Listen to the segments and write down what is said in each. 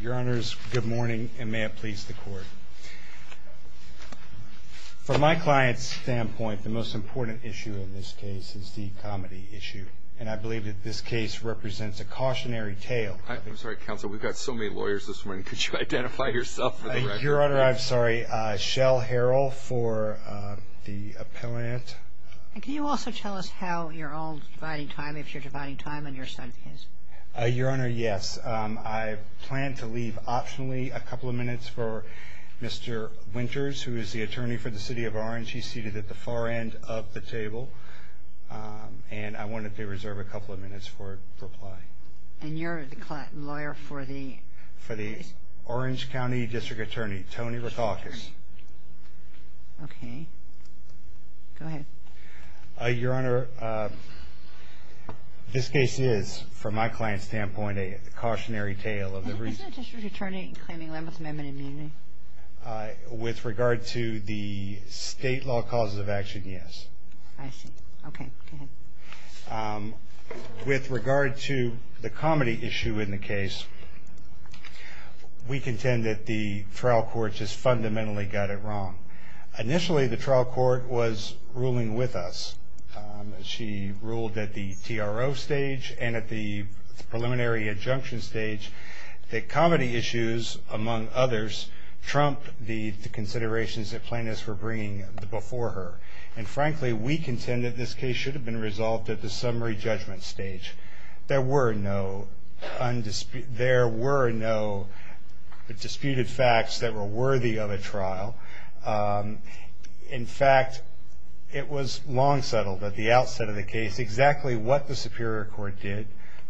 Your Honor, good morning, and may it please the court. From my client's standpoint, the most important issue in this case is the comedy issue, and I believe that this case represents a cautionary tale. I'm sorry, counsel, we've got so many lawyers this morning. Could you identify yourself for the record? Your Honor, I'm sorry. Shell Harrell for the appellant. Can you also tell us how you're all dividing time, if you're dividing time on your side of the case? Your Honor, yes. I plan to leave optionally a couple of minutes for Mr. Winters, who is the attorney for the City of Orange. He's seated at the far end of the table, and I wanted to reserve a couple of minutes for reply. And you're the client lawyer for the case? For the Orange County District Attorney, Tony Rackaukas. Okay. Go ahead. Your Honor, this case is, from my client's standpoint, a cautionary tale. Isn't the District Attorney claiming a limb with amendment immunity? With regard to the state law causes of action, yes. I see. Okay. Go ahead. With regard to the comedy issue in the case, we contend that the trial court just fundamentally got it wrong. Initially, the trial court was ruling with us. She ruled at the TRO stage and at the preliminary adjunction stage that comedy issues, among others, trump the considerations that plaintiffs were bringing before her. And frankly, we contend that this case should have been resolved at the summary judgment stage. There were no disputed facts that were worthy of a trial. In fact, it was long settled at the outset of the case exactly what the Superior Court did,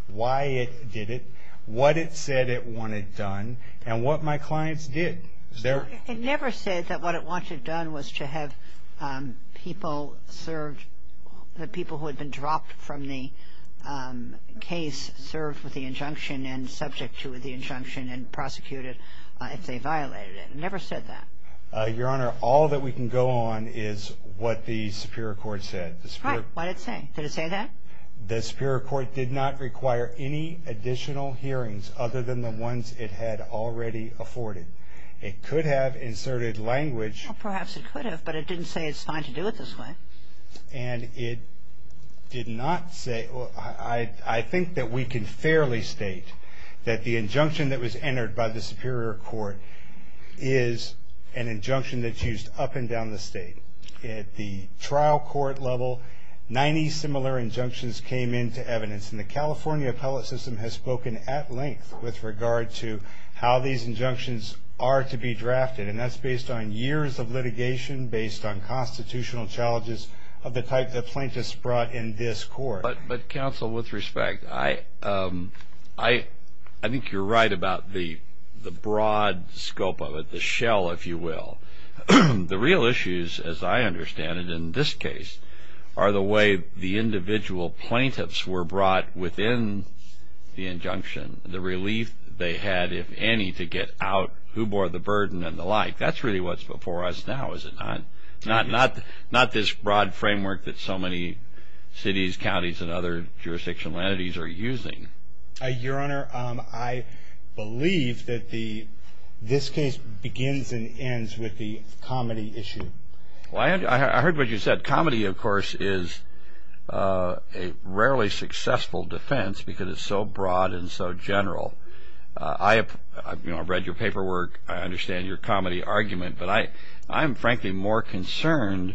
why it did it, what it said it wanted done, and what my clients did. It never said that what it wanted done was to have people served, the people who had been dropped from the case served with the injunction and subject to the injunction and prosecuted if they violated it. It never said that. Your Honor, all that we can go on is what the Superior Court said. What did it say? Did it say that? The Superior Court did not require any additional hearings other than the ones it had already afforded. It could have inserted language. Perhaps it could have, but it didn't say it's fine to do it this way. And it did not say. I think that we can fairly state that the injunction that was entered by the Superior Court is an injunction that's used up and down the state. At the trial court level, 90 similar injunctions came into evidence. And the California appellate system has spoken at length with regard to how these injunctions are to be drafted. And that's based on years of litigation, based on constitutional challenges of the type that plaintiffs brought in this court. But, counsel, with respect, I think you're right about the broad scope of it, the shell, if you will. The real issues, as I understand it in this case, are the way the individual plaintiffs were brought within the injunction, the relief they had, if any, to get out, who bore the burden and the like. That's really what's before us now, is it not? Not this broad framework that so many cities, counties, and other jurisdictional entities are using. Your Honor, I believe that this case begins and ends with the comedy issue. Well, I heard what you said. Comedy, of course, is a rarely successful defense because it's so broad and so general. I've read your paperwork. I understand your comedy argument. But I'm, frankly, more concerned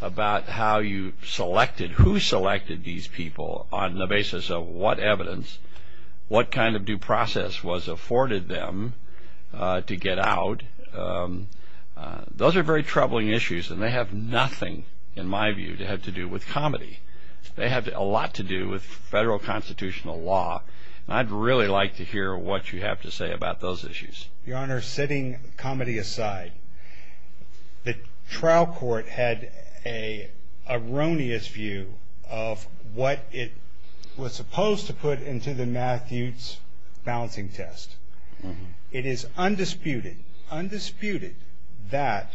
about how you selected, who selected these people on the basis of what evidence, what kind of due process was afforded them to get out. Those are very troubling issues, and they have nothing, in my view, to have to do with comedy. They have a lot to do with federal constitutional law, and I'd really like to hear what you have to say about those issues. Your Honor, setting comedy aside, the trial court had an erroneous view of what it was supposed to put into the Matthews balancing test. It is undisputed, undisputed, that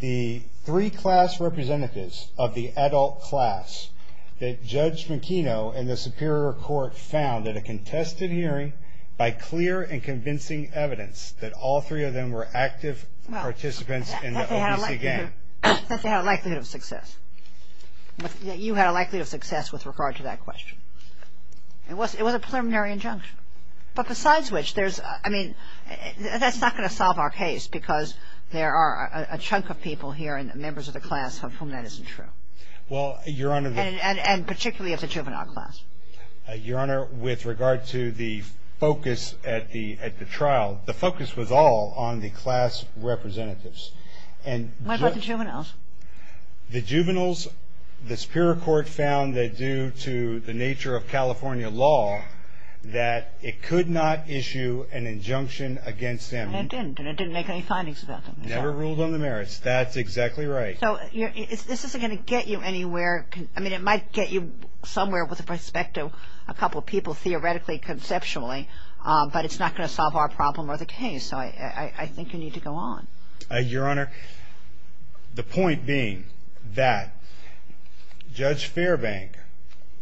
the three class representatives of the adult class that Judge McKeno and the Superior Court found at a contested hearing, by clear and convincing evidence that all three of them were active participants in the OVC game. Well, since they had a likelihood of success. You had a likelihood of success with regard to that question. It was a preliminary injunction. But besides which, there's, I mean, that's not going to solve our case because there are a chunk of people here and members of the class of whom that isn't true. Well, Your Honor. And particularly of the juvenile class. Your Honor, with regard to the focus at the trial, the focus was all on the class representatives. What about the juveniles? The juveniles, the Superior Court found that due to the nature of California law, that it could not issue an injunction against them. And it didn't, and it didn't make any findings about them. Never ruled on the merits. That's exactly right. So this isn't going to get you anywhere. I mean, it might get you somewhere with respect to a couple of people, theoretically, conceptually. But it's not going to solve our problem or the case. So I think you need to go on. Your Honor, the point being that Judge Fairbank,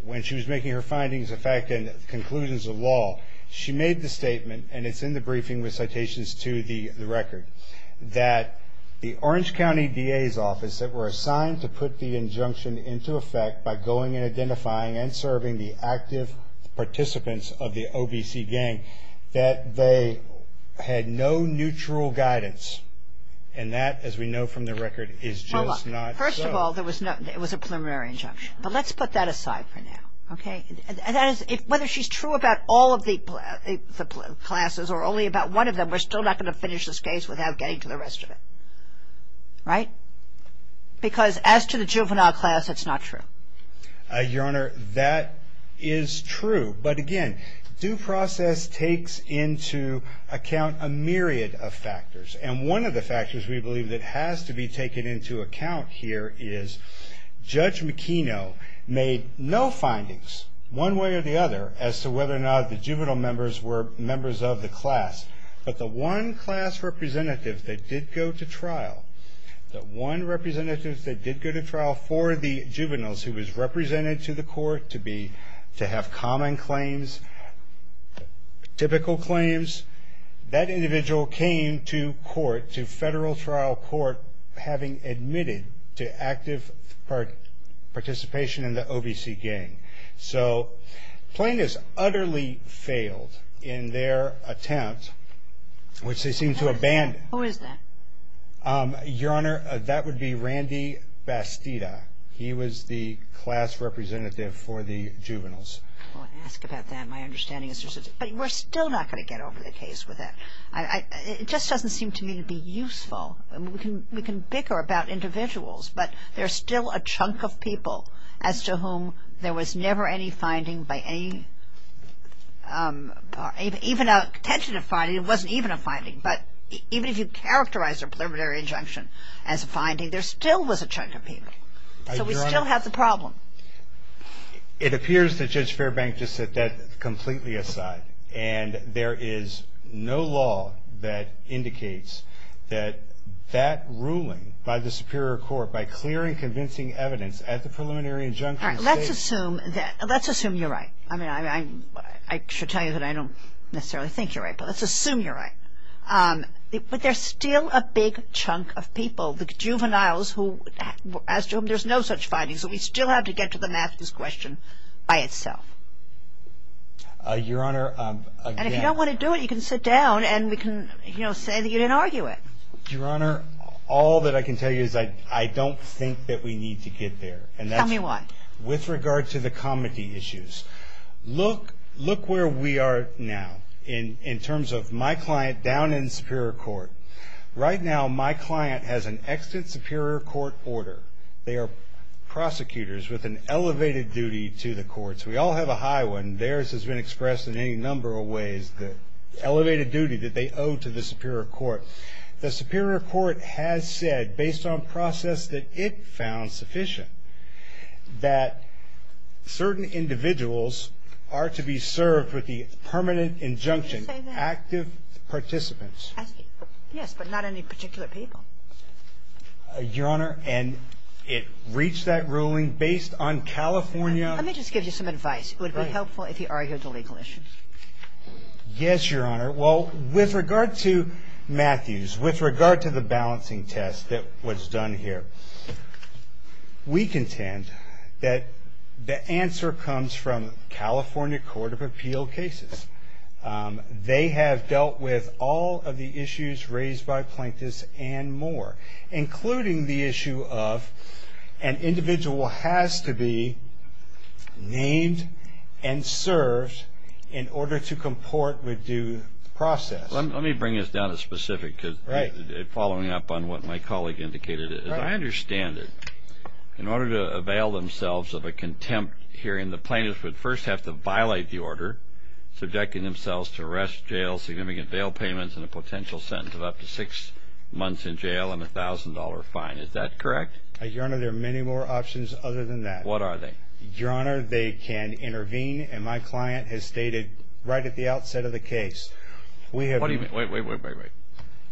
when she was making her findings, in fact, in conclusions of law, she made the statement, and it's in the briefing with citations to the record, that the Orange County DA's office that were assigned to put the injunction into effect by going and identifying and serving the active participants of the OVC gang, that they had no neutral guidance. And that, as we know from the record, is just not so. First of all, it was a preliminary injunction. But let's put that aside for now, okay? Whether she's true about all of the classes or only about one of them, we're still not going to finish this case without getting to the rest of it. Right? Because as to the juvenile class, it's not true. Your Honor, that is true. But again, due process takes into account a myriad of factors. And one of the factors we believe that has to be taken into account here is Judge McKeno made no findings, one way or the other, as to whether or not the juvenile members were members of the class. But the one class representative that did go to trial, the one representative that did go to trial for the juveniles who was represented to the court to have common claims, typical claims, that individual came to court, to federal trial court, having admitted to active participation in the OVC gang. So plaintiffs utterly failed in their attempt, which they seem to abandon. Who is that? Your Honor, that would be Randy Bastida. He was the class representative for the juveniles. Well, ask about that. My understanding is there's a – but we're still not going to get over the case with that. It just doesn't seem to me to be useful. We can bicker about individuals, but there's still a chunk of people as to whom there was never any finding by any – even a contention of finding, it wasn't even a finding, but even if you characterize a preliminary injunction as a finding, there still was a chunk of people. So we still have the problem. It appears that Judge Fairbank just set that completely aside. And there is no law that indicates that that ruling by the superior court, by clear and convincing evidence at the preliminary injunction states – All right. Let's assume that – let's assume you're right. I mean, I should tell you that I don't necessarily think you're right, but let's assume you're right. But there's still a big chunk of people, the juveniles, as to whom there's no such finding, so we still have to get to the math of this question by itself. Your Honor, again – And if you don't want to do it, you can sit down and say that you didn't argue it. Your Honor, all that I can tell you is I don't think that we need to get there. Tell me why. With regard to the comity issues. Look where we are now in terms of my client down in superior court. Right now my client has an extant superior court order. They are prosecutors with an elevated duty to the courts. We all have a high one. Theirs has been expressed in any number of ways, the elevated duty that they owe to the superior court. The superior court has said, based on process that it found sufficient, that certain individuals are to be served with the permanent injunction, active participants. Yes, but not any particular people. Your Honor, and it reached that ruling based on California – Let me just give you some advice. It would be helpful if you argued the legal issues. Yes, Your Honor. Well, with regard to Matthews, with regard to the balancing test that was done here, we contend that the answer comes from California Court of Appeal cases. They have dealt with all of the issues raised by Plaintiffs and more, including the issue of an individual has to be named and served in order to comport with due process. Let me bring this down to specific, following up on what my colleague indicated. As I understand it, in order to avail themselves of a contempt hearing, the plaintiffs would first have to violate the order, subjecting themselves to arrest, jail, significant bail payments, and a potential sentence of up to six months in jail and a $1,000 fine. Is that correct? Your Honor, there are many more options other than that. What are they? Your Honor, they can intervene, and my client has stated right at the outset of the case – Wait, wait, wait, wait, wait.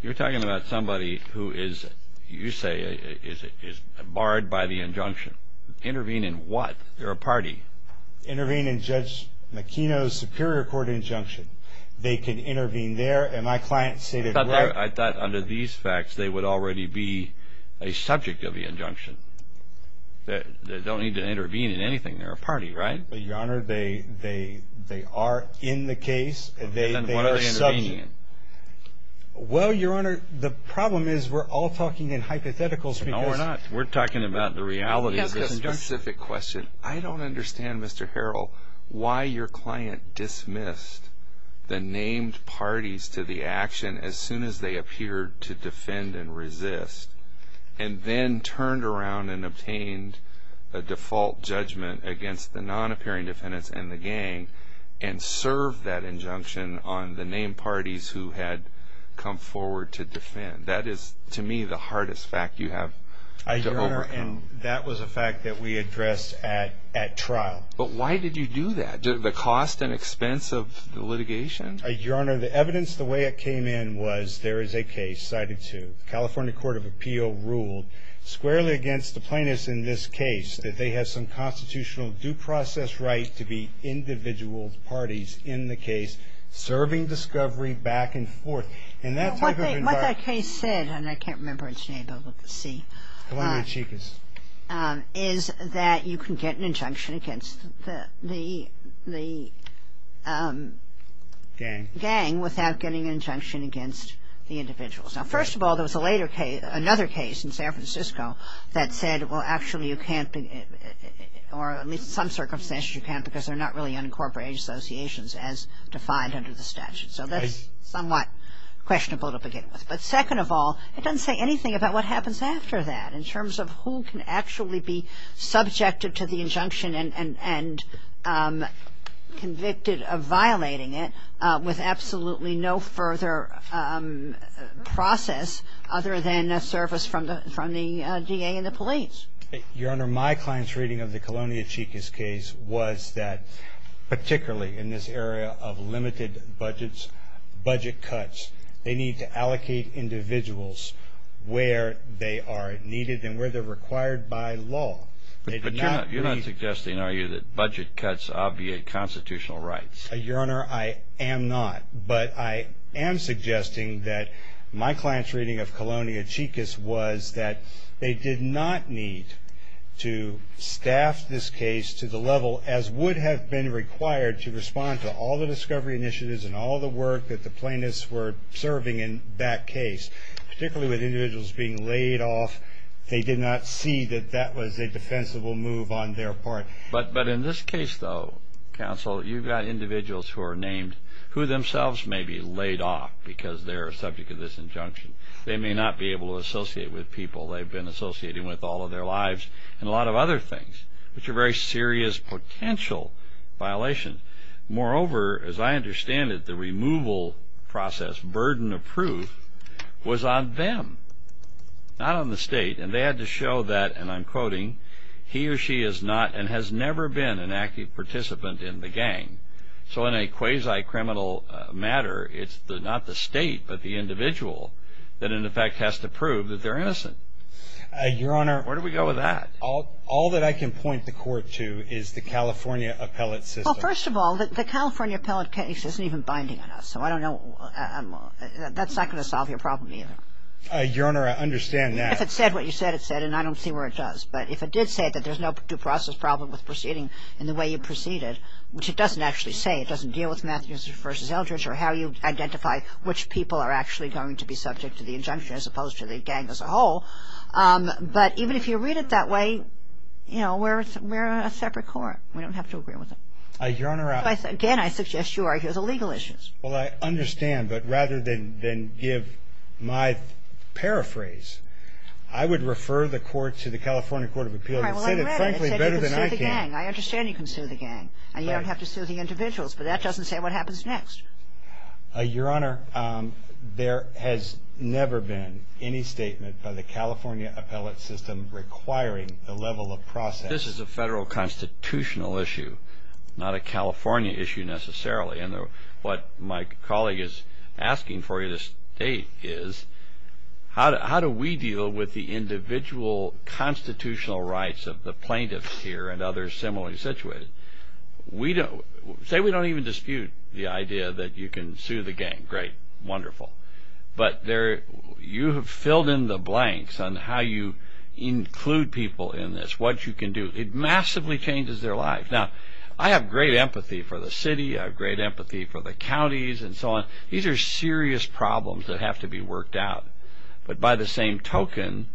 You're talking about somebody who is, you say, is barred by the injunction. Intervene in what? They're a party. Intervene in Judge McKenna's Superior Court injunction. They can intervene there, and my client stated – I thought under these facts they would already be a subject of the injunction. They don't need to intervene in anything. They're a party, right? Your Honor, they are in the case. Then what are they intervening in? Well, Your Honor, the problem is we're all talking in hypotheticals because – No, we're not. We're talking about the reality of this injunction. I don't understand, Mr. Harrell, why your client dismissed the named parties to the action as soon as they appeared to defend and resist and then turned around and obtained a default judgment against the non-appearing defendants and the gang and served that injunction on the named parties who had come forward to defend. That is, to me, the hardest fact you have to overcome. That was a fact that we addressed at trial. But why did you do that? The cost and expense of the litigation? Your Honor, the evidence, the way it came in, was there is a case cited to the California Court of Appeal ruled squarely against the plaintiffs in this case that they have some constitutional due process right to be individual parties in the case serving discovery back and forth. What that case said, and I can't remember its name, I'll have to see. Come on, my cheekies. Is that you can get an injunction against the gang without getting an injunction against the individuals. Now, first of all, there was another case in San Francisco that said, well, actually you can't, or at least in some circumstances you can't because they're not really unincorporated associations as defined under the statute. So that's somewhat questionable to begin with. But second of all, it doesn't say anything about what happens after that in terms of who can actually be subjected to the injunction and convicted of violating it with absolutely no further process other than a service from the DA and the police. Your Honor, my client's reading of the Colonia Chicas case was that, particularly in this area of limited budget cuts, they need to allocate individuals where they are needed and where they're required by law. But you're not suggesting, are you, that budget cuts obviate constitutional rights? Your Honor, I am not. But I am suggesting that my client's reading of Colonia Chicas was that they did not need to staff this case to the level as would have been required to respond to all the discovery initiatives and all the work that the plaintiffs were serving in that case. Particularly with individuals being laid off, they did not see that that was a defensible move on their part. But in this case, though, counsel, you've got individuals who are named who themselves may be laid off because they're a subject of this injunction. They may not be able to associate with people they've been associating with all of their lives and a lot of other things, which are very serious potential violations. Moreover, as I understand it, the removal process, burden of proof, was on them, not on the state. And they had to show that, and I'm quoting, he or she is not and has never been an active participant in the gang. So in a quasi-criminal matter, it's not the state but the individual that in effect has to prove that they're innocent. Your Honor. Where do we go with that? All that I can point the court to is the California appellate system. Well, first of all, the California appellate case isn't even binding on us. So I don't know. That's not going to solve your problem either. Your Honor, I understand that. If it said what you said it said, and I don't see where it does. But if it did say that there's no due process problem with proceeding in the way you proceeded, which it doesn't actually say, it doesn't deal with Matthews v. Eldridge or how you identify which people are actually going to be subject to the injunction as opposed to the gang as a whole. But even if you read it that way, you know, we're a separate court. We don't have to agree with it. Your Honor. Again, I suggest you argue the legal issues. Well, I understand. But rather than give my paraphrase, I would refer the court to the California Court of Appeals. All right. Well, I read it. It said it frankly better than I can. It said you can sue the gang. I understand you can sue the gang. Right. And you don't have to sue the individuals. But that doesn't say what happens next. Your Honor, there has never been any statement by the California appellate system requiring the level of process. This is a federal constitutional issue, not a California issue necessarily. And what my colleague is asking for you to state is, how do we deal with the individual constitutional rights of the plaintiffs here and others similarly situated? Say we don't even dispute the idea that you can sue the gang. Great. Wonderful. But you have filled in the blanks on how you include people in this, what you can do. It massively changes their lives. Now, I have great empathy for the city. I have great empathy for the counties and so on. These are serious problems that have to be worked out. But by the same token,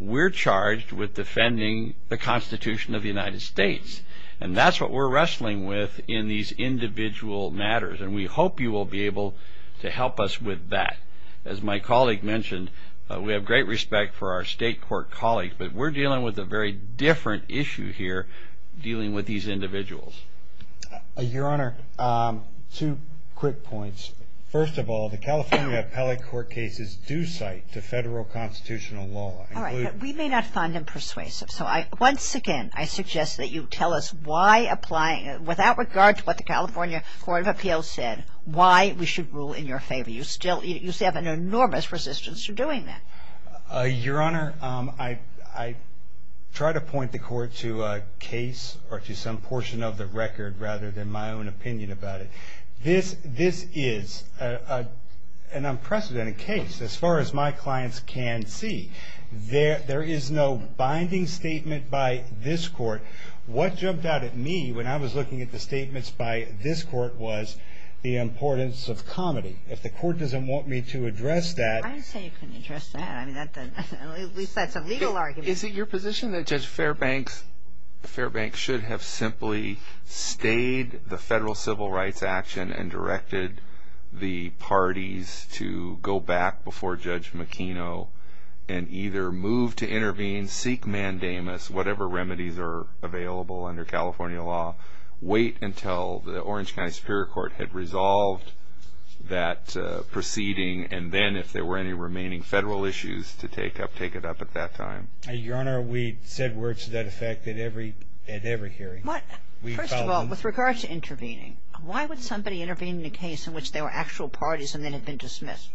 we're charged with defending the Constitution of the United States. And that's what we're wrestling with in these individual matters. And we hope you will be able to help us with that. As my colleague mentioned, we have great respect for our state court colleagues, but we're dealing with a very different issue here dealing with these individuals. Your Honor, two quick points. First of all, the California appellate court cases do cite the federal constitutional law. All right. But we may not find them persuasive. So once again, I suggest that you tell us why, without regard to what the California Court of Appeals said, why we should rule in your favor. You still have an enormous resistance to doing that. Your Honor, I try to point the court to a case or to some portion of the record rather than my own opinion about it. This is an unprecedented case as far as my clients can see. There is no binding statement by this court. What jumped out at me when I was looking at the statements by this court was the importance of comedy. If the court doesn't want me to address that. I say you can address that. At least that's a legal argument. Is it your position that Judge Fairbank should have simply stayed the federal civil rights action and directed the parties to go back before Judge McKenna and either move to intervene, seek mandamus, whatever remedies are available under California law, wait until the Orange County Superior Court had resolved that proceeding, and then, if there were any remaining federal issues, to take it up at that time? Your Honor, we said words to that effect at every hearing. First of all, with regard to intervening, why would somebody intervene in a case in which there were actual parties and they had been dismissed?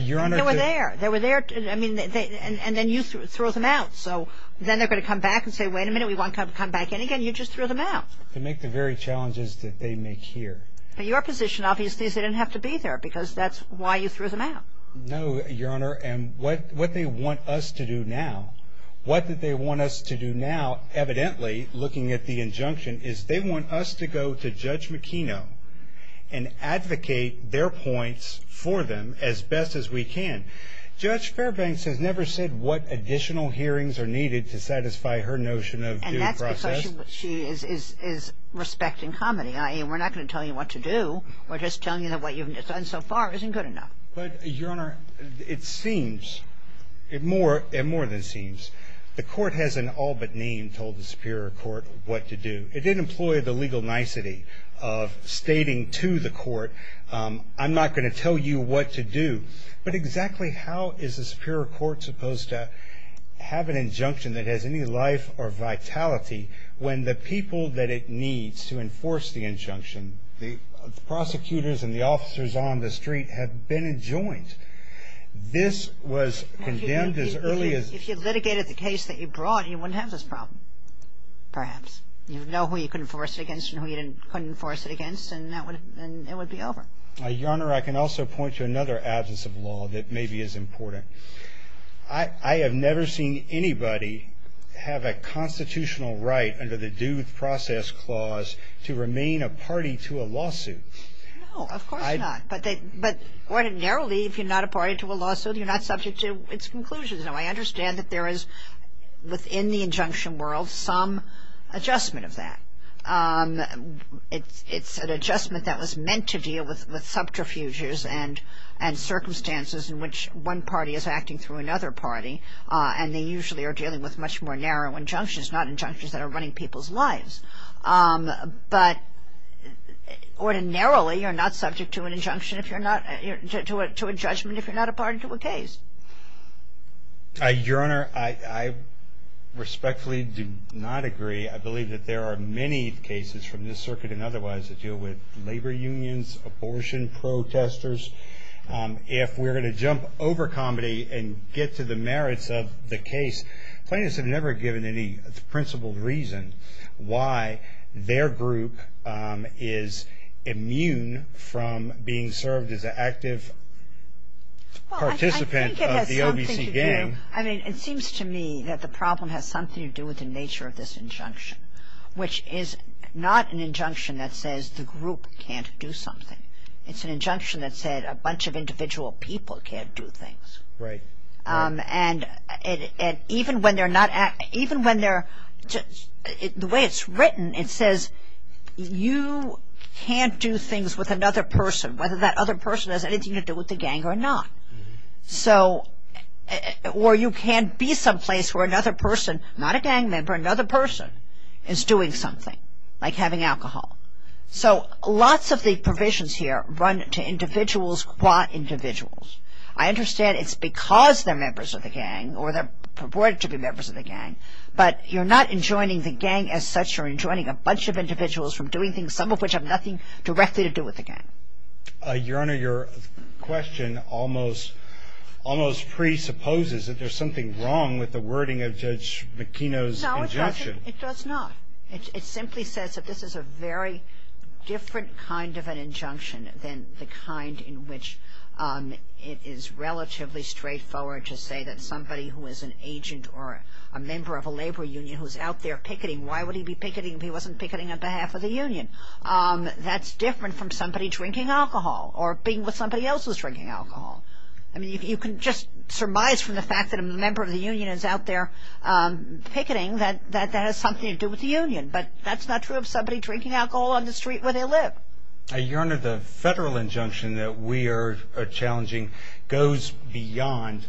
Your Honor. They were there. And then you throw them out. So then they're going to come back and say, wait a minute, we want to come back in again. You just throw them out. To make the very challenges that they make here. Your position obviously is they didn't have to be there because that's why you threw them out. No, Your Honor, and what they want us to do now, what they want us to do now evidently, looking at the injunction, is they want us to go to Judge McKenna and advocate their points for them as best as we can. Judge Fairbank has never said what additional hearings are needed to satisfy her notion of due process. And that's because she is respecting comedy. I mean, we're not going to tell you what to do. We're just telling you that what you've done so far isn't good enough. But, Your Honor, it seems, it more than seems, the Court has in all but name told the Superior Court what to do. It didn't employ the legal nicety of stating to the Court, I'm not going to tell you what to do. But exactly how is the Superior Court supposed to have an injunction that has any life or vitality when the people that it needs to enforce the injunction, the prosecutors and the officers on the street, have been enjoined? This was condemned as early as... If you litigated the case that you brought, you wouldn't have this problem, perhaps. You would know who you could enforce it against and who you couldn't enforce it against, and it would be over. Your Honor, I can also point to another absence of law that maybe is important. I have never seen anybody have a constitutional right under the Due Process Clause to remain a party to a lawsuit. No, of course not. But ordinarily, if you're not a party to a lawsuit, you're not subject to its conclusions. Now, I understand that there is, within the injunction world, some adjustment of that. It's an adjustment that was meant to deal with subterfuges and circumstances in which one party is acting through another party, and they usually are dealing with much more narrow injunctions, not injunctions that are running people's lives. But ordinarily, you're not subject to an injunction if you're not... to a judgment if you're not a party to a case. Your Honor, I respectfully do not agree. I believe that there are many cases from this circuit and otherwise that deal with labor unions, abortion, protesters. If we're going to jump over comedy and get to the merits of the case, plaintiffs have never given any principled reason why their group is immune from being served as an active participant of the OVC gang. I mean, it seems to me that the problem has something to do with the nature of this injunction, which is not an injunction that says the group can't do something. It's an injunction that said a bunch of individual people can't do things. Right. And even when they're not... even when they're... the way it's written, it says you can't do things with another person, whether that other person has anything to do with the gang or not. So... or you can't be someplace where another person, not a gang member, another person is doing something, like having alcohol. So lots of the provisions here run to individuals, qua individuals. I understand it's because they're members of the gang or they're purported to be members of the gang, but you're not enjoining the gang as such. You're enjoining a bunch of individuals from doing things, some of which have nothing directly to do with the gang. Your Honor, your question almost presupposes that there's something wrong with the wording of Judge McKeno's injunction. No, it doesn't. It does not. It simply says that this is a very different kind of an injunction than the kind in which it is relatively straightforward to say that somebody who is an agent or a member of a labor union who's out there picketing, why would he be picketing if he wasn't picketing on behalf of the union? That's different from somebody drinking alcohol or being with somebody else who's drinking alcohol. I mean, you can just surmise from the fact that a member of the union is out there picketing that that has something to do with the union. But that's not true of somebody drinking alcohol on the street where they live. Your Honor, the federal injunction that we are challenging goes beyond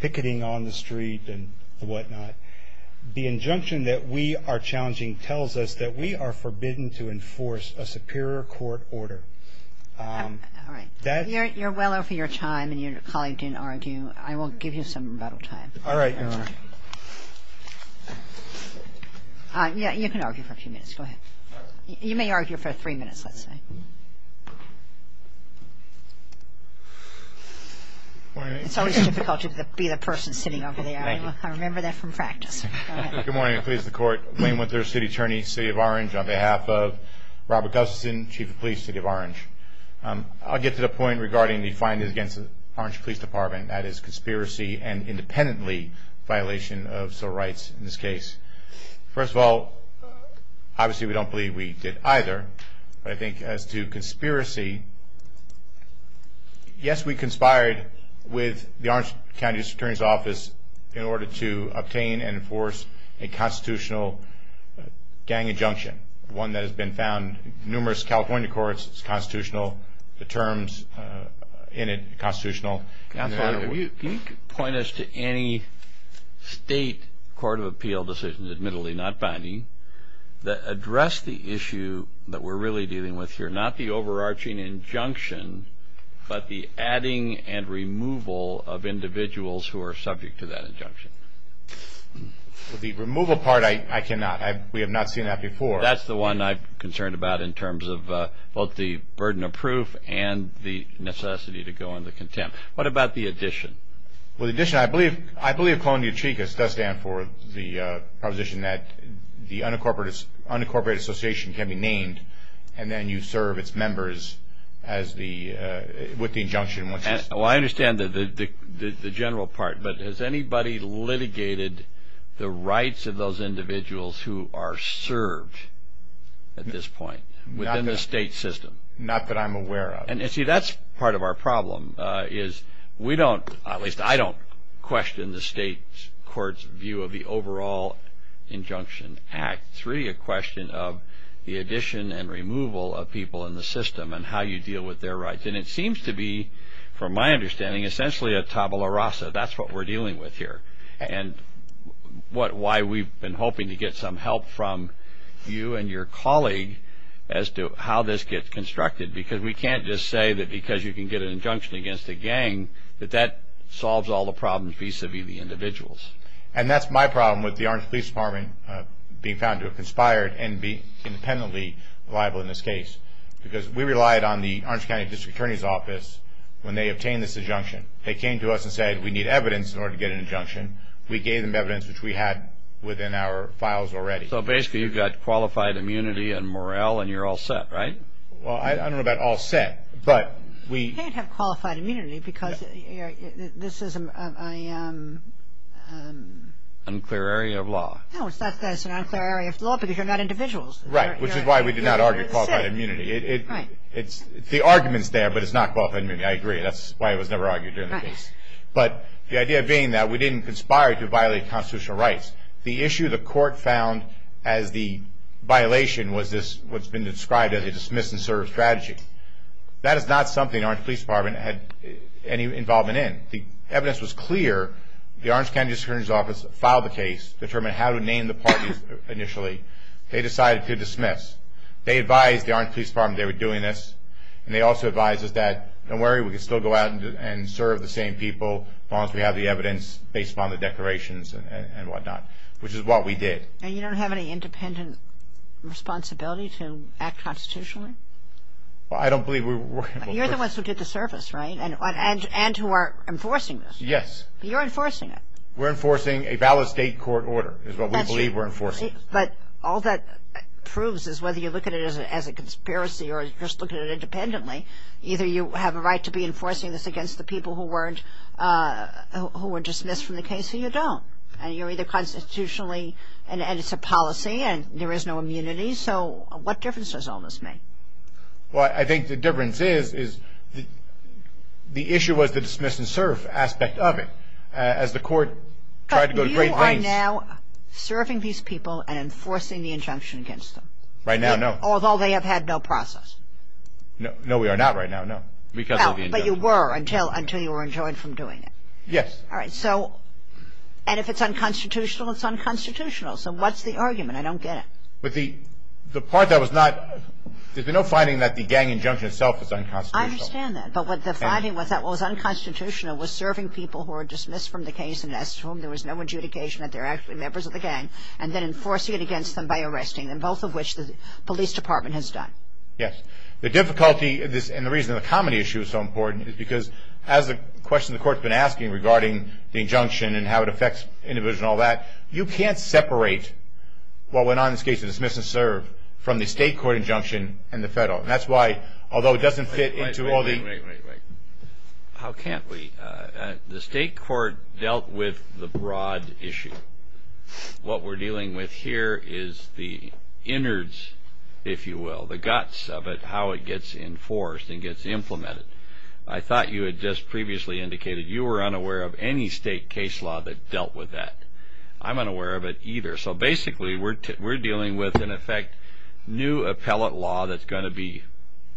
picketing on the street and whatnot. The injunction that we are challenging tells us that we are forbidden to enforce a superior court order. All right. You're well over your time and your colleague didn't argue. I will give you some rebuttal time. All right, Your Honor. Yeah, you can argue for a few minutes. Go ahead. You may argue for three minutes, let's say. It's always difficult to be the person sitting over there. Thank you. I remember that from practice. Go ahead. Good morning. Pleased to court. Wayne Winter, City Attorney, City of Orange on behalf of Robert Gustafson, Chief of Police, City of Orange. I'll get to the point regarding the findings against the Orange Police Department, that is conspiracy and independently violation of civil rights in this case. First of all, obviously we don't believe we did either. But I think as to conspiracy, yes, we conspired with the Orange County District Attorney's Office in order to obtain and enforce a constitutional gang injunction, one that has been found in numerous California courts. It's constitutional, the terms in it are constitutional. Can you point us to any state court of appeal decisions, admittedly not binding, that address the issue that we're really dealing with here, not the overarching injunction, but the adding and removal of individuals who are subject to that injunction? The removal part, I cannot. We have not seen that before. That's the one I'm concerned about in terms of both the burden of proof and the necessity to go into contempt. What about the addition? Well, the addition, I believe Colony of Chicas does stand for the proposition that the unincorporated association can be named and then you serve its members with the injunction. Well, I understand the general part, but has anybody litigated the rights of those individuals who are served at this point within the state system? Not that I'm aware of. See, that's part of our problem is we don't, at least I don't, question the state court's view of the overall injunction act. It's really a question of the addition and removal of people in the system and how you deal with their rights. And it seems to be, from my understanding, essentially a tabula rasa. That's what we're dealing with here and why we've been hoping to get some help from you and your colleague as to how this gets constructed because we can't just say that because you can get an injunction against a gang that that solves all the problems vis-a-vis the individuals. And that's my problem with the Orange Police Department being found to have conspired and be independently liable in this case because we relied on the Orange County District Attorney's Office when they obtained this injunction. They came to us and said we need evidence in order to get an injunction. We gave them evidence, which we had within our files already. So basically you've got qualified immunity and morale and you're all set, right? Well, I don't know about all set, but we... You can't have qualified immunity because this is an unclear area of law. No, it's not that it's an unclear area of law because you're not individuals. Right, which is why we did not argue qualified immunity. Right. The argument's there, but it's not qualified immunity. I agree. That's why it was never argued during the case. Right. But the idea being that we didn't conspire to violate constitutional rights. The issue the court found as the violation was this, what's been described as a dismiss and serve strategy. That is not something the Orange Police Department had any involvement in. The evidence was clear. The Orange County District Attorney's Office filed the case, determined how to name the parties initially. They decided to dismiss. They advised the Orange Police Department they were doing this, and they also advised us that, don't worry, we can still go out and serve the same people as long as we have the evidence based upon the declarations and whatnot, which is what we did. And you don't have any independent responsibility to act constitutionally? Well, I don't believe we were. You're the ones who did the service, right, and who are enforcing this. Yes. You're enforcing it. We're enforcing a valid state court order is what we believe we're enforcing. But all that proves is whether you look at it as a conspiracy or just look at it independently, either you have a right to be enforcing this against the people who weren't, who were dismissed from the case or you don't. And you're either constitutionally, and it's a policy, and there is no immunity. So what difference does all this make? Well, I think the difference is the issue was the dismiss and serve aspect of it. As the court tried to go to great lengths. Are you now serving these people and enforcing the injunction against them? Right now, no. Although they have had no process? No, we are not right now, no. Because of the injunction. But you were until you were enjoined from doing it? Yes. All right. So and if it's unconstitutional, it's unconstitutional. So what's the argument? I don't get it. The part that was not, there's been no finding that the gang injunction itself is unconstitutional. I understand that. But what the finding was that what was unconstitutional was serving people who were dismissed from the case and asked for them. There was no adjudication that they're actually members of the gang. And then enforcing it against them by arresting them, both of which the police department has done. Yes. The difficulty of this and the reason the comedy issue is so important is because as the question the court's been asking regarding the injunction and how it affects individuals and all that, you can't separate what went on in this case of dismiss and serve from the state court injunction and the federal. And that's why, although it doesn't fit into all the. Wait, wait, wait, wait, wait. How can't we? The state court dealt with the broad issue. What we're dealing with here is the innards, if you will, the guts of it, how it gets enforced and gets implemented. I thought you had just previously indicated you were unaware of any state case law that dealt with that. I'm unaware of it either. So basically we're dealing with, in effect, new appellate law that's going to be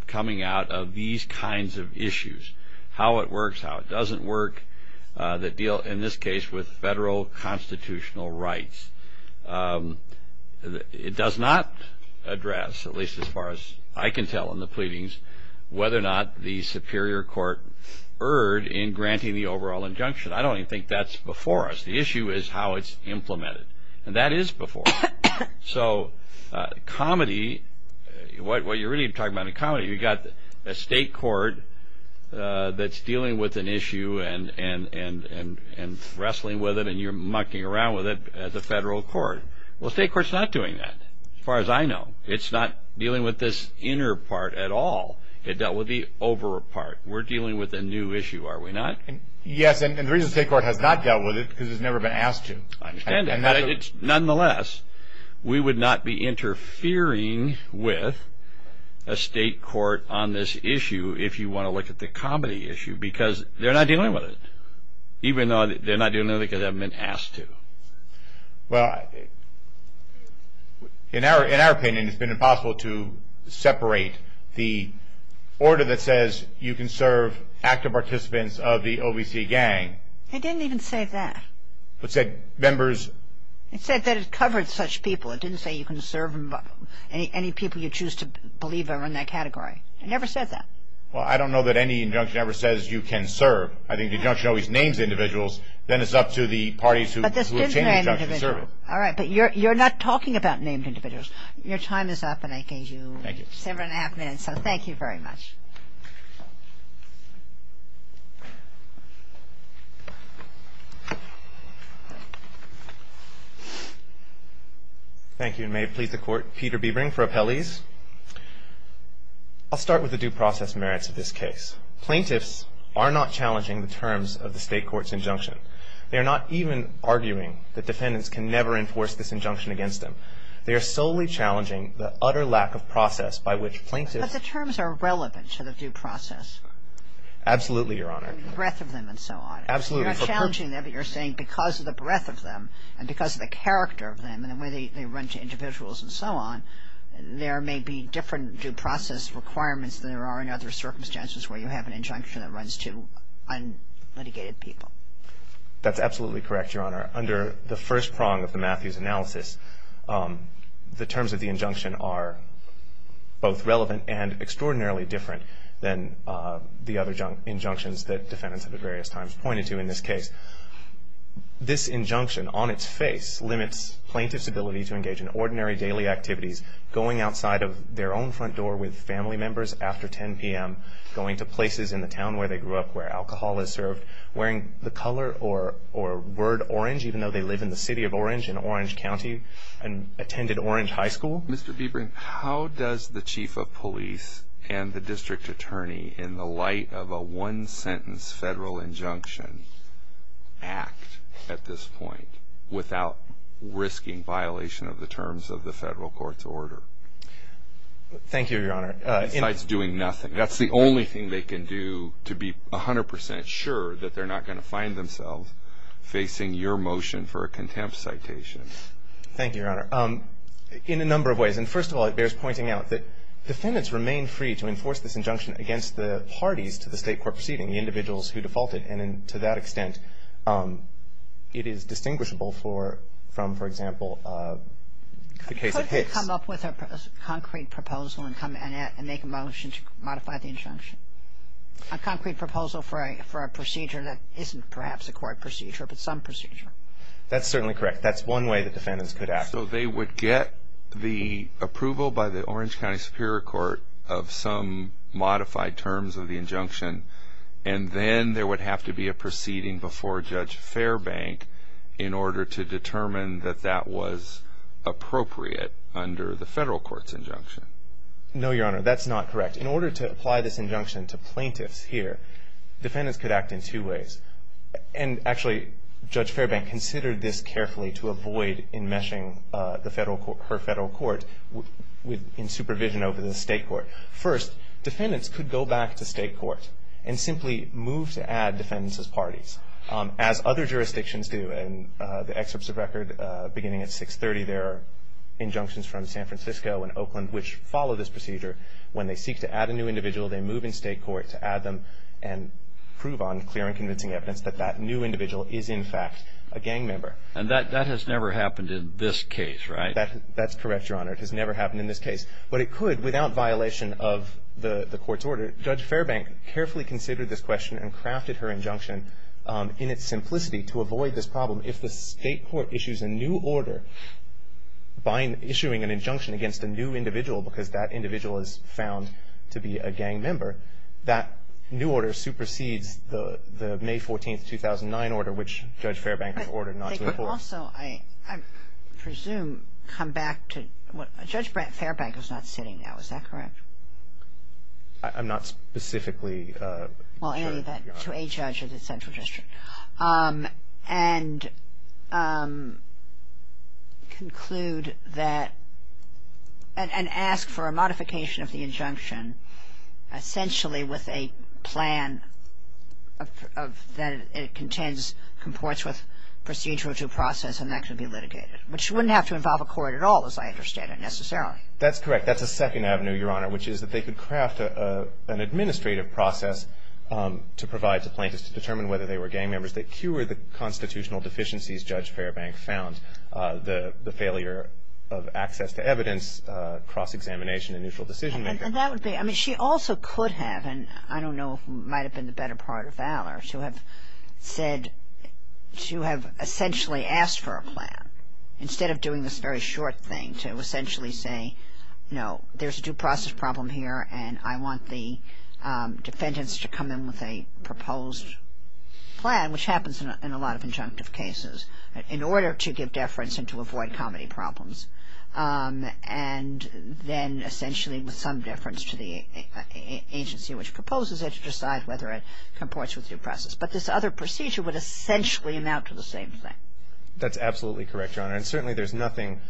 coming out of these kinds of issues. How it works, how it doesn't work, that deal, in this case, with federal constitutional rights. It does not address, at least as far as I can tell in the pleadings, whether or not the superior court erred in granting the overall injunction. I don't even think that's before us. The issue is how it's implemented. And that is before us. So comedy, what you're really talking about in comedy, you've got a state court that's dealing with an issue and wrestling with it, and you're mucking around with it as a federal court. Well, the state court's not doing that, as far as I know. It's not dealing with this inner part at all. It dealt with the over part. We're dealing with a new issue, are we not? Yes, and the reason the state court has not dealt with it is because it's never been asked to. I understand that. Nonetheless, we would not be interfering with a state court on this issue if you want to look at the comedy issue because they're not dealing with it, even though they're not dealing with it because they haven't been asked to. Well, in our opinion, it's been impossible to separate the order that says you can serve active participants of the OVC gang. They didn't even say that. It said members. It said that it covered such people. It didn't say you can serve any people you choose to believe are in that category. It never said that. Well, I don't know that any injunction ever says you can serve. I think the injunction always names individuals. Then it's up to the parties who obtain the injunction to serve it. All right, but you're not talking about named individuals. Your time is up, and I gave you seven and a half minutes, so thank you very much. Thank you, and may it please the Court. Peter Biebring for Appellees. I'll start with the due process merits of this case. Plaintiffs are not challenging the terms of the state court's injunction. They are not even arguing that defendants can never enforce this injunction against them. They are solely challenging the utter lack of process by which plaintiffs. But the terms are relevant. Absolutely, Your Honor. The breadth of them and so on. Absolutely. You're not challenging them, but you're saying because of the breadth of them and because of the character of them and the way they run to individuals and so on, there may be different due process requirements than there are in other circumstances where you have an injunction that runs to unlitigated people. That's absolutely correct, Your Honor. Under the first prong of the Matthews analysis, the terms of the injunction are both relevant and extraordinarily different than the other injunctions that defendants have at various times pointed to in this case. This injunction on its face limits plaintiffs' ability to engage in ordinary daily activities, going outside of their own front door with family members after 10 p.m., going to places in the town where they grew up where alcohol is served, wearing the color or word orange even though they live in the city of Orange in Orange County and attended Orange High School. Mr. Biebring, how does the chief of police and the district attorney, in the light of a one-sentence federal injunction, act at this point without risking violation of the terms of the federal court's order? Thank you, Your Honor. Besides doing nothing. That's the only thing they can do to be 100 percent sure that they're not going to find themselves facing your motion for a contempt citation. Thank you, Your Honor. In a number of ways. And first of all, it bears pointing out that defendants remain free to enforce this injunction against the parties to the state court proceeding, the individuals who defaulted. And to that extent, it is distinguishable from, for example, the case of Hicks. They could come up with a concrete proposal and make a motion to modify the injunction. A concrete proposal for a procedure that isn't perhaps a court procedure but some procedure. That's certainly correct. That's one way that defendants could act. So they would get the approval by the Orange County Superior Court of some modified terms of the injunction, and then there would have to be a proceeding before Judge Fairbank in order to determine that that was appropriate under the federal court's injunction. No, Your Honor. That's not correct. In order to apply this injunction to plaintiffs here, defendants could act in two ways. And actually, Judge Fairbank considered this carefully to avoid enmeshing her federal court in supervision over the state court. First, defendants could go back to state court and simply move to add defendants as parties, as other jurisdictions do. And the excerpts of record beginning at 630, there are injunctions from San Francisco and Oakland, which follow this procedure. When they seek to add a new individual, they move in state court to add them and prove on clear and convincing evidence that that new individual is, in fact, a gang member. And that has never happened in this case, right? That's correct, Your Honor. It has never happened in this case. But it could without violation of the court's order. Judge Fairbank carefully considered this question and crafted her injunction in its simplicity to avoid this problem. If the state court issues a new order by issuing an injunction against a new individual because that individual is found to be a gang member, that new order supersedes the May 14, 2009 order, which Judge Fairbank has ordered not to enforce. But they could also, I presume, come back to what – Judge Fairbank is not sitting now. Is that correct? I'm not specifically sure, Your Honor. Well, to a judge of the central district. And conclude that – and ask for a modification of the injunction, essentially with a plan that it contends – comports with procedural due process, and that could be litigated, which wouldn't have to involve a court at all, as I understand it, necessarily. That's correct. That's a second avenue, Your Honor, which is that they could craft an administrative process to provide to plaintiffs to determine whether they were gang members that cure the constitutional deficiencies Judge Fairbank found, the failure of access to evidence, cross-examination, and neutral decision-making. And that would be – I mean, she also could have, and I don't know if it might have been the better part of valor, instead of doing this very short thing to essentially say, you know, there's a due process problem here and I want the defendants to come in with a proposed plan, which happens in a lot of injunctive cases, in order to give deference and to avoid comedy problems. And then essentially with some deference to the agency which proposes it to decide whether it comports with due process. But this other procedure would essentially amount to the same thing. That's absolutely correct, Your Honor. And certainly there's nothing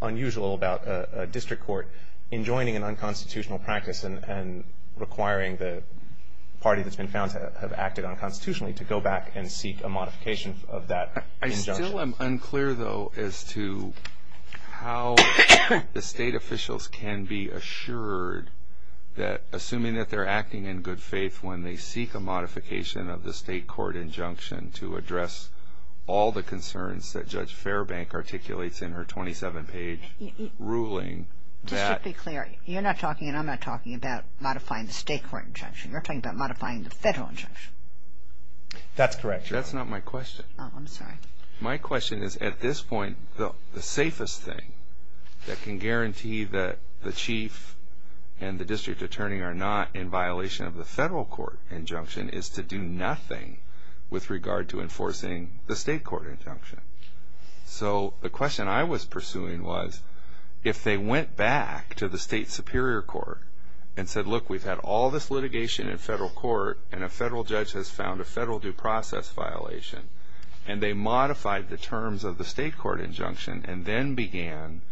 unusual about a district court enjoining an unconstitutional practice and requiring the party that's been found to have acted unconstitutionally to go back and seek a modification of that injunction. I still am unclear, though, as to how the state officials can be assured that, assuming that they're acting in good faith when they seek a modification of the state court injunction to address all the concerns that Judge Fairbank articulates in her 27-page ruling that... Just to be clear, you're not talking and I'm not talking about modifying the state court injunction. You're talking about modifying the federal injunction. That's correct, Your Honor. That's not my question. Oh, I'm sorry. My question is, at this point, the safest thing that can guarantee that the chief and the district attorney are not in violation of the federal court injunction is to do nothing with regard to enforcing the state court injunction. So the question I was pursuing was, if they went back to the state superior court and said, look, we've had all this litigation in federal court and a federal judge has found a federal due process violation, and they modified the terms of the state court injunction and then began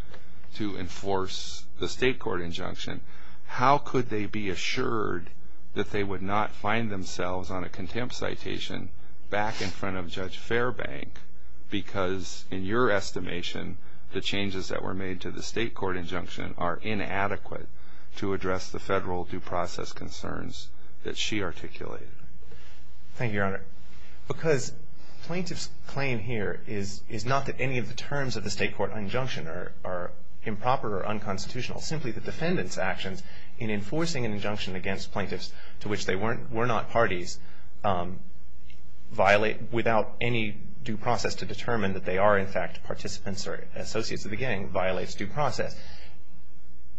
to enforce the state court injunction, how could they be assured that they would not find themselves on a contempt citation back in front of Judge Fairbank because, in your estimation, the changes that were made to the state court injunction are inadequate to address the federal due process concerns that she articulated? Thank you, Your Honor. Because plaintiff's claim here is not that any of the terms of the state court injunction are improper or unconstitutional. Simply, the defendant's actions in enforcing an injunction against plaintiffs to which they were not parties violate without any due process to determine that they are, in fact, participants or associates of the gang violates due process.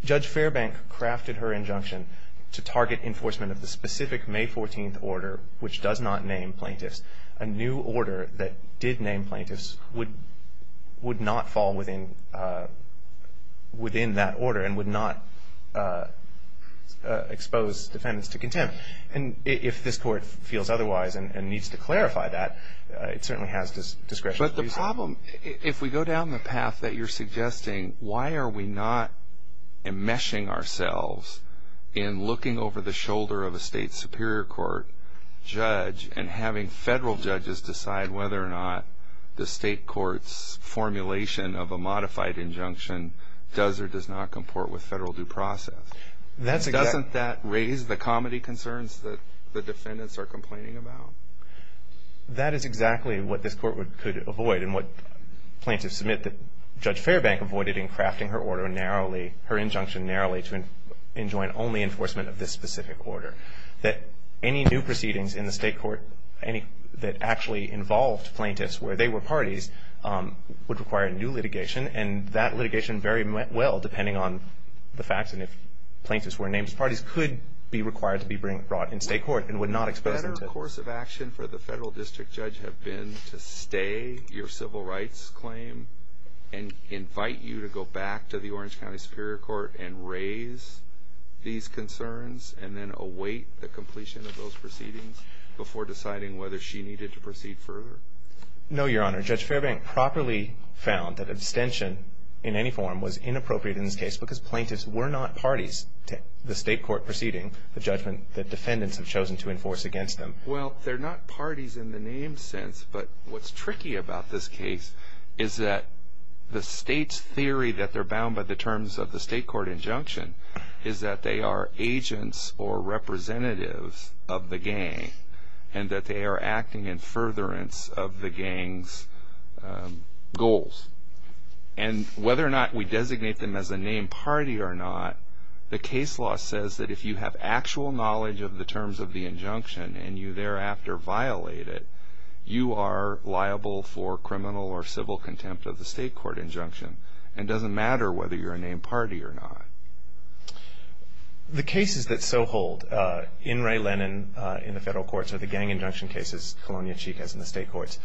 Judge Fairbank crafted her injunction to target enforcement of the specific May 14th order, which does not name plaintiffs. A new order that did name plaintiffs would not fall within that order and would not expose defendants to contempt. And if this Court feels otherwise and needs to clarify that, it certainly has discretion. But the problem, if we go down the path that you're suggesting, why are we not enmeshing ourselves in looking over the shoulder of a state superior court judge and having federal judges decide whether or not the state court's formulation of a modified injunction does or does not comport with federal due process? Doesn't that raise the comedy concerns that the defendants are complaining about? That is exactly what this Court could avoid and what plaintiffs submit that Judge Fairbank avoided in crafting her order narrowly, her injunction narrowly to enjoin only enforcement of this specific order. That any new proceedings in the state court that actually involved plaintiffs where they were parties would require a new litigation, and that litigation very well, depending on the facts and if plaintiffs were named parties, could be required to be brought in state court and would not expose them to- What a better course of action for the federal district judge had been to stay your civil rights claim and invite you to go back to the Orange County Superior Court and raise these concerns and then await the completion of those proceedings before deciding whether she needed to proceed further. No, Your Honor. Judge Fairbank properly found that abstention in any form was inappropriate in this case because plaintiffs were not parties to the state court proceeding, the judgment that defendants have chosen to enforce against them. Well, they're not parties in the named sense, but what's tricky about this case is that the state's theory that they're bound by the terms of the state court injunction is that they are agents or representatives of the gang and that they are acting in furtherance of the gang's goals. And whether or not we designate them as a named party or not, the case law says that if you have actual knowledge of the terms of the injunction and you thereafter violate it, you are liable for criminal or civil contempt of the state court injunction. And it doesn't matter whether you're a named party or not. The cases that so hold in Ray Lennon, in the federal courts, or the gang injunction cases, Colonial Cheek has in the state courts,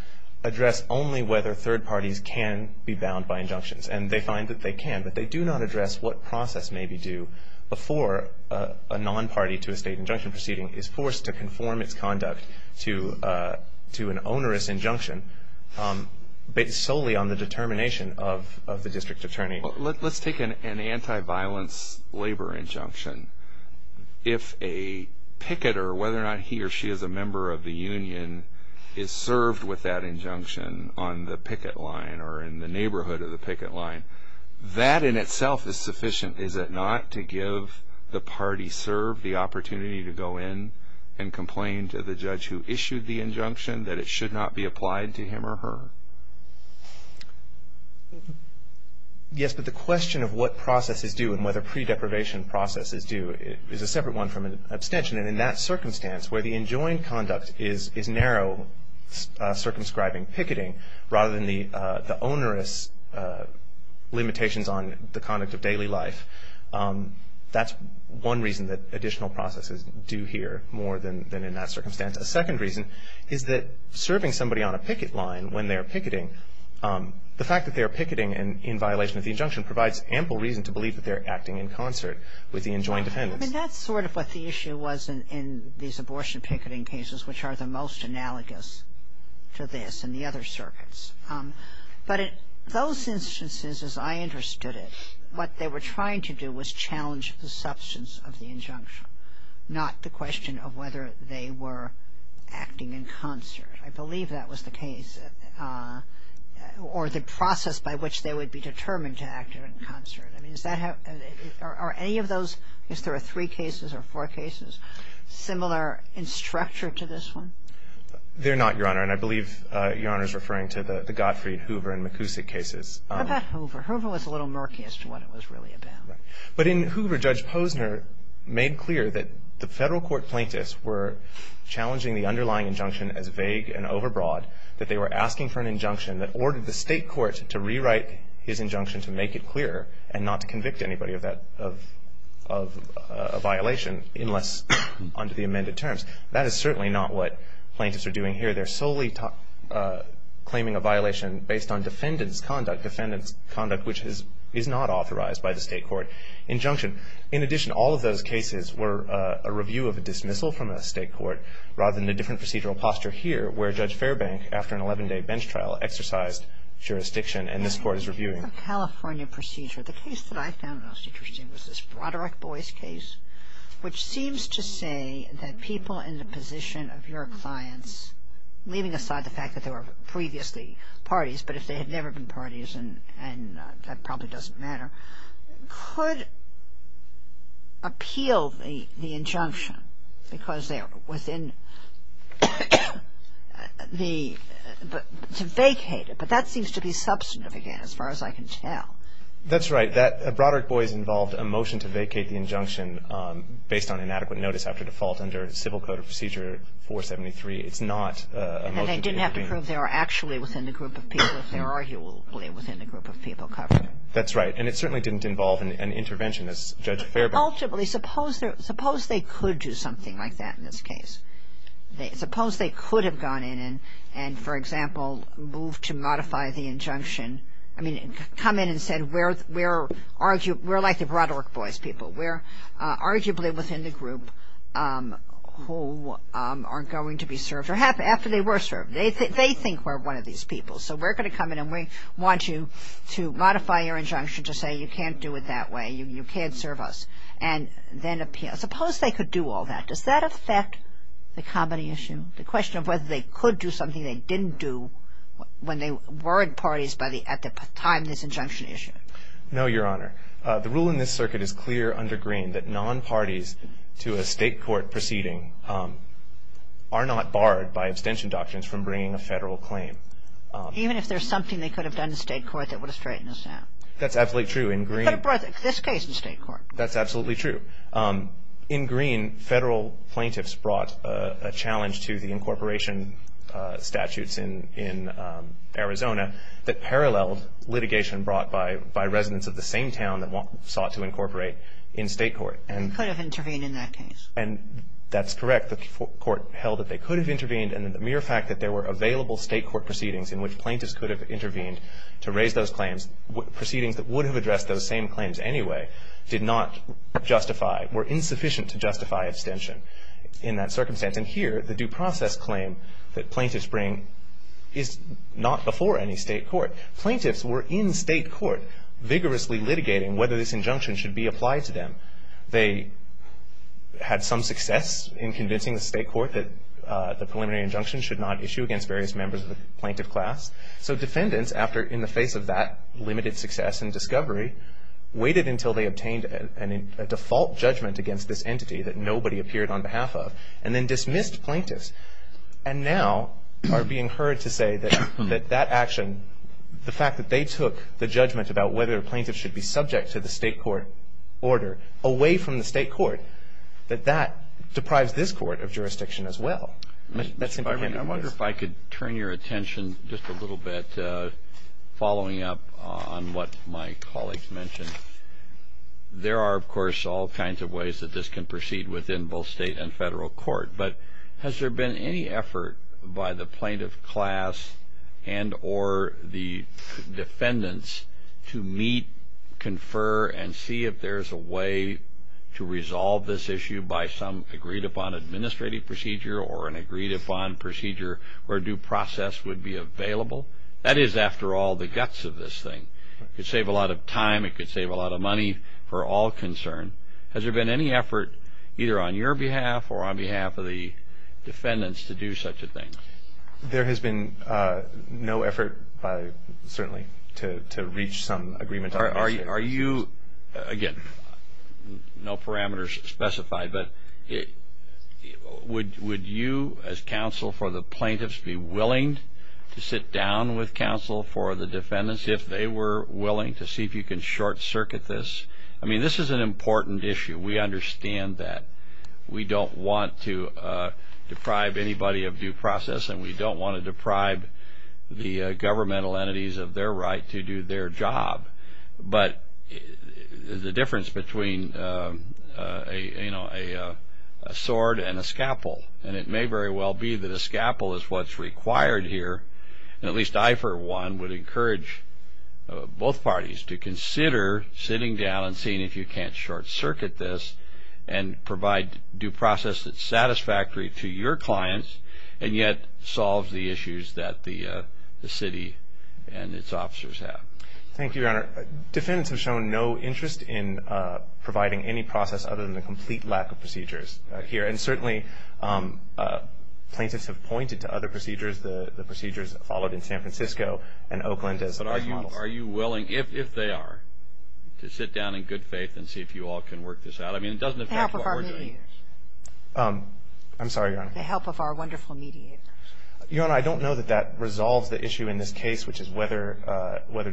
address only whether third parties can be bound by injunctions. And they find that they can, but they do not address what process may be due before a non-party to a state injunction proceeding is forced to conform its conduct to an onerous injunction based solely on the determination of the district attorney. Let's take an anti-violence labor injunction. If a picketer, whether or not he or she is a member of the union, is served with that injunction on the picket line or in the neighborhood of the picket line, that in itself is sufficient, is it not, to give the party served the opportunity to go in and complain to the judge who issued the injunction that it should not be applied to him or her? Yes, but the question of what process is due and whether pre-deprivation process is due is a separate one from an abstention. And in that circumstance, where the enjoined conduct is narrow, circumscribing picketing, rather than the onerous limitations on the conduct of daily life, that's one reason that additional processes due here more than in that circumstance. A second reason is that serving somebody on a picket line when they're picketing, the fact that they're picketing in violation of the injunction provides ample reason to believe that they're acting in concert with the enjoined defendants. I mean, that's sort of what the issue was in these abortion picketing cases, which are the most analogous to this and the other circuits. But in those instances, as I understood it, what they were trying to do was challenge the substance of the injunction, not the question of whether they were acting in concert. I believe that was the case, or the process by which they would be determined to act in concert. I mean, is that how – are any of those – I guess there are three cases or four cases similar in structure to this one? They're not, Your Honor. And I believe Your Honor is referring to the Gottfried Hoover and McKusick cases. How about Hoover? Hoover was a little murky as to what it was really about. Right. But in Hoover, Judge Posner made clear that the Federal court plaintiffs were challenging the underlying injunction as vague and overbroad, that they were asking for an injunction that ordered the State court to rewrite his injunction to make it clearer and not to convict anybody of that – of a violation unless under the amended terms. That is certainly not what plaintiffs are doing here. They're solely claiming a violation based on defendant's conduct, defendant's conduct which is not authorized by the State court injunction. In addition, all of those cases were a review of a dismissal from a State court rather than the different procedural posture here where Judge Fairbank, after an 11-day bench trial, exercised jurisdiction and this Court is reviewing. In the California procedure, the case that I found most interesting was this Broderick Boys case, which seems to say that people in the position of your clients, leaving aside the fact that they were previously parties, but if they had never been parties and that probably doesn't matter, could appeal the injunction because they are within the – to vacate it. But that seems to be substantive again as far as I can tell. That's right. That – Broderick Boys involved a motion to vacate the injunction based on inadequate notice after default under Civil Code of Procedure 473. It's not a motion to vacate. And they didn't have to prove they were actually within the group of people if they were arguably within the group of people covered. That's right. And it certainly didn't involve an intervention as Judge Fairbank – Ultimately, suppose they could do something like that in this case. Suppose they could have gone in and, for example, moved to modify the injunction – I mean, come in and said we're like the Broderick Boys people. We're arguably within the group who are going to be served or after they were served. They think we're one of these people, so we're going to come in and we want you to modify your injunction to say you can't do it that way, you can't serve us, and then appeal. Suppose they could do all that. Does that affect the comedy issue, the question of whether they could do something they didn't do when they worried parties at the time of this injunction issue? No, Your Honor. The rule in this circuit is clear under Greene that non-parties to a state court proceeding are not barred by abstention doctrines from bringing a federal claim. Even if there's something they could have done in state court that would have straightened this out? That's absolutely true. You could have brought this case in state court. That's absolutely true. In Greene, federal plaintiffs brought a challenge to the incorporation statutes in Arizona that paralleled litigation brought by residents of the same town that sought to incorporate in state court. They could have intervened in that case. That's correct. The court held that they could have intervened, and the mere fact that there were available state court proceedings in which plaintiffs could have intervened to raise those claims, proceedings that would have addressed those same claims anyway, did not justify, were insufficient to justify abstention in that circumstance. And here, the due process claim that plaintiffs bring is not before any state court. Plaintiffs were in state court vigorously litigating whether this injunction should be applied to them. They had some success in convincing the state court that the preliminary injunction should not issue against various members of the plaintiff class. So defendants, after, in the face of that limited success and discovery, waited until they obtained a default judgment against this entity that nobody appeared on behalf of, and then dismissed plaintiffs, and now are being heard to say that that action, the fact that they took the judgment about whether a plaintiff should be subject to the state court order away from the state court, that that deprives this court of jurisdiction as well. I wonder if I could turn your attention just a little bit, following up on what my colleagues mentioned. There are, of course, all kinds of ways that this can proceed within both state and federal court, but has there been any effort by the plaintiff class and or the defendants to meet, confer, and see if there's a way to resolve this issue by some agreed-upon administrative procedure or an agreed-upon procedure where due process would be available? That is, after all, the guts of this thing. It could save a lot of time. It could save a lot of money for all concerned. Has there been any effort either on your behalf or on behalf of the defendants to do such a thing? There has been no effort, certainly, to reach some agreement. Are you, again, no parameters specified, but would you as counsel for the plaintiffs be willing to sit down with counsel for the defendants if they were willing to see if you can short circuit this? I mean, this is an important issue. We understand that. We don't want to deprive anybody of due process, and we don't want to deprive the governmental entities of their right to do their job. But the difference between a sword and a scalpel, and it may very well be that a scalpel is what's required here, and at least I, for one, would encourage both parties to consider sitting down and seeing if you can't short circuit this and provide due process that's satisfactory to your clients and yet solves the issues that the city and its officers have. Thank you, Your Honor. Defendants have shown no interest in providing any process other than the complete lack of procedures here, and certainly plaintiffs have pointed to other procedures, the procedures followed in San Francisco and Oakland as large models. Are you willing, if they are, to sit down in good faith and see if you all can work this out? I mean, it doesn't affect what we're doing. The help of our mediators. I'm sorry, Your Honor. The help of our wonderful mediators. Your Honor, I don't know that that resolves the issue in this case, which is whether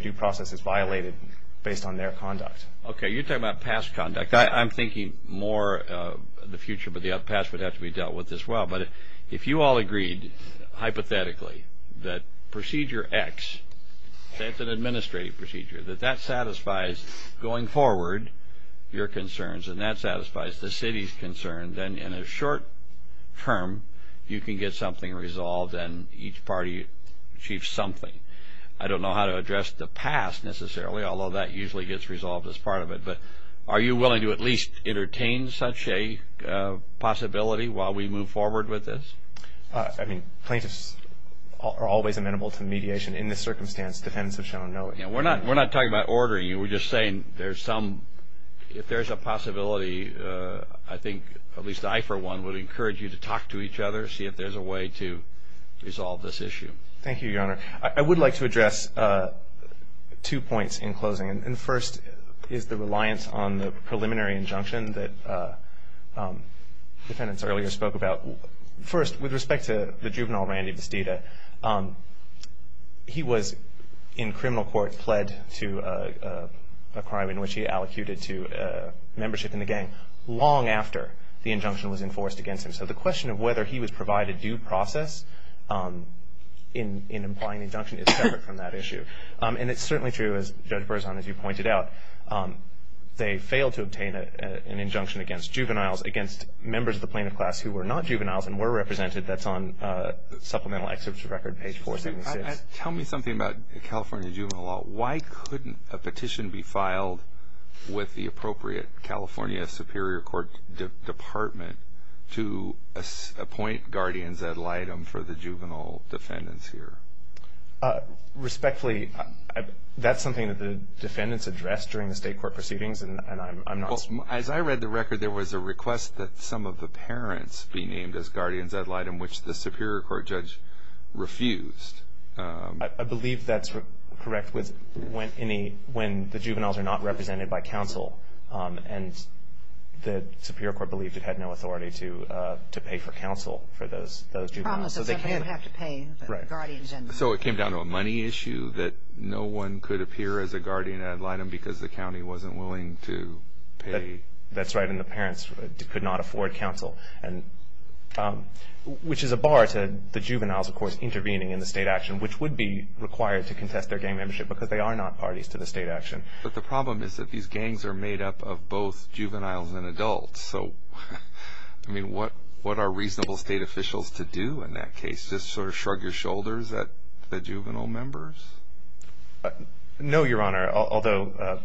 due process is violated based on their conduct. Okay. You're talking about past conduct. I'm thinking more of the future, but the past would have to be dealt with as well. But if you all agreed hypothetically that Procedure X, that's an administrative procedure, that that satisfies going forward your concerns and that satisfies the city's concerns, then in the short term you can get something resolved and each party achieves something. I don't know how to address the past necessarily, although that usually gets resolved as part of it, but are you willing to at least entertain such a possibility while we move forward with this? I mean, plaintiffs are always amenable to mediation in this circumstance, defendants have shown no objection. We're not talking about ordering you. We're just saying if there's a possibility, I think at least I for one would encourage you to talk to each other, see if there's a way to resolve this issue. Thank you, Your Honor. I would like to address two points in closing. And the first is the reliance on the preliminary injunction that defendants earlier spoke about. First, with respect to the juvenile Randy Vestita, he was in criminal court pled to a crime in which he allocated to membership in the gang long after the injunction was enforced against him. So the question of whether he was provided due process in implying the injunction is separate from that issue. And it's certainly true, as Judge Berzon, as you pointed out, they failed to obtain an injunction against juveniles, against members of the plaintiff class who were not juveniles and were represented. That's on Supplemental Exhibit Record, page 476. Tell me something about California juvenile law. Why couldn't a petition be filed with the appropriate California Superior Court Department to appoint guardians ad litem for the juvenile defendants here? Respectfully, that's something that the defendants addressed during the state court proceedings, and I'm not sure. As I read the record, there was a request that some of the parents be named as guardians ad litem, which the Superior Court judge refused. I believe that's correct when the juveniles are not represented by counsel, and the Superior Court believed it had no authority to pay for counsel for those juveniles. So it came down to a money issue that no one could appear as a guardian ad litem because the county wasn't willing to pay. That's right, and the parents could not afford counsel, which is a bar to the juveniles, of course, intervening in the state action, which would be required to contest their gang membership because they are not parties to the state action. But the problem is that these gangs are made up of both juveniles and adults, so what are reasonable state officials to do in that case? Just sort of shrug your shoulders at the juvenile members? No, Your Honor, although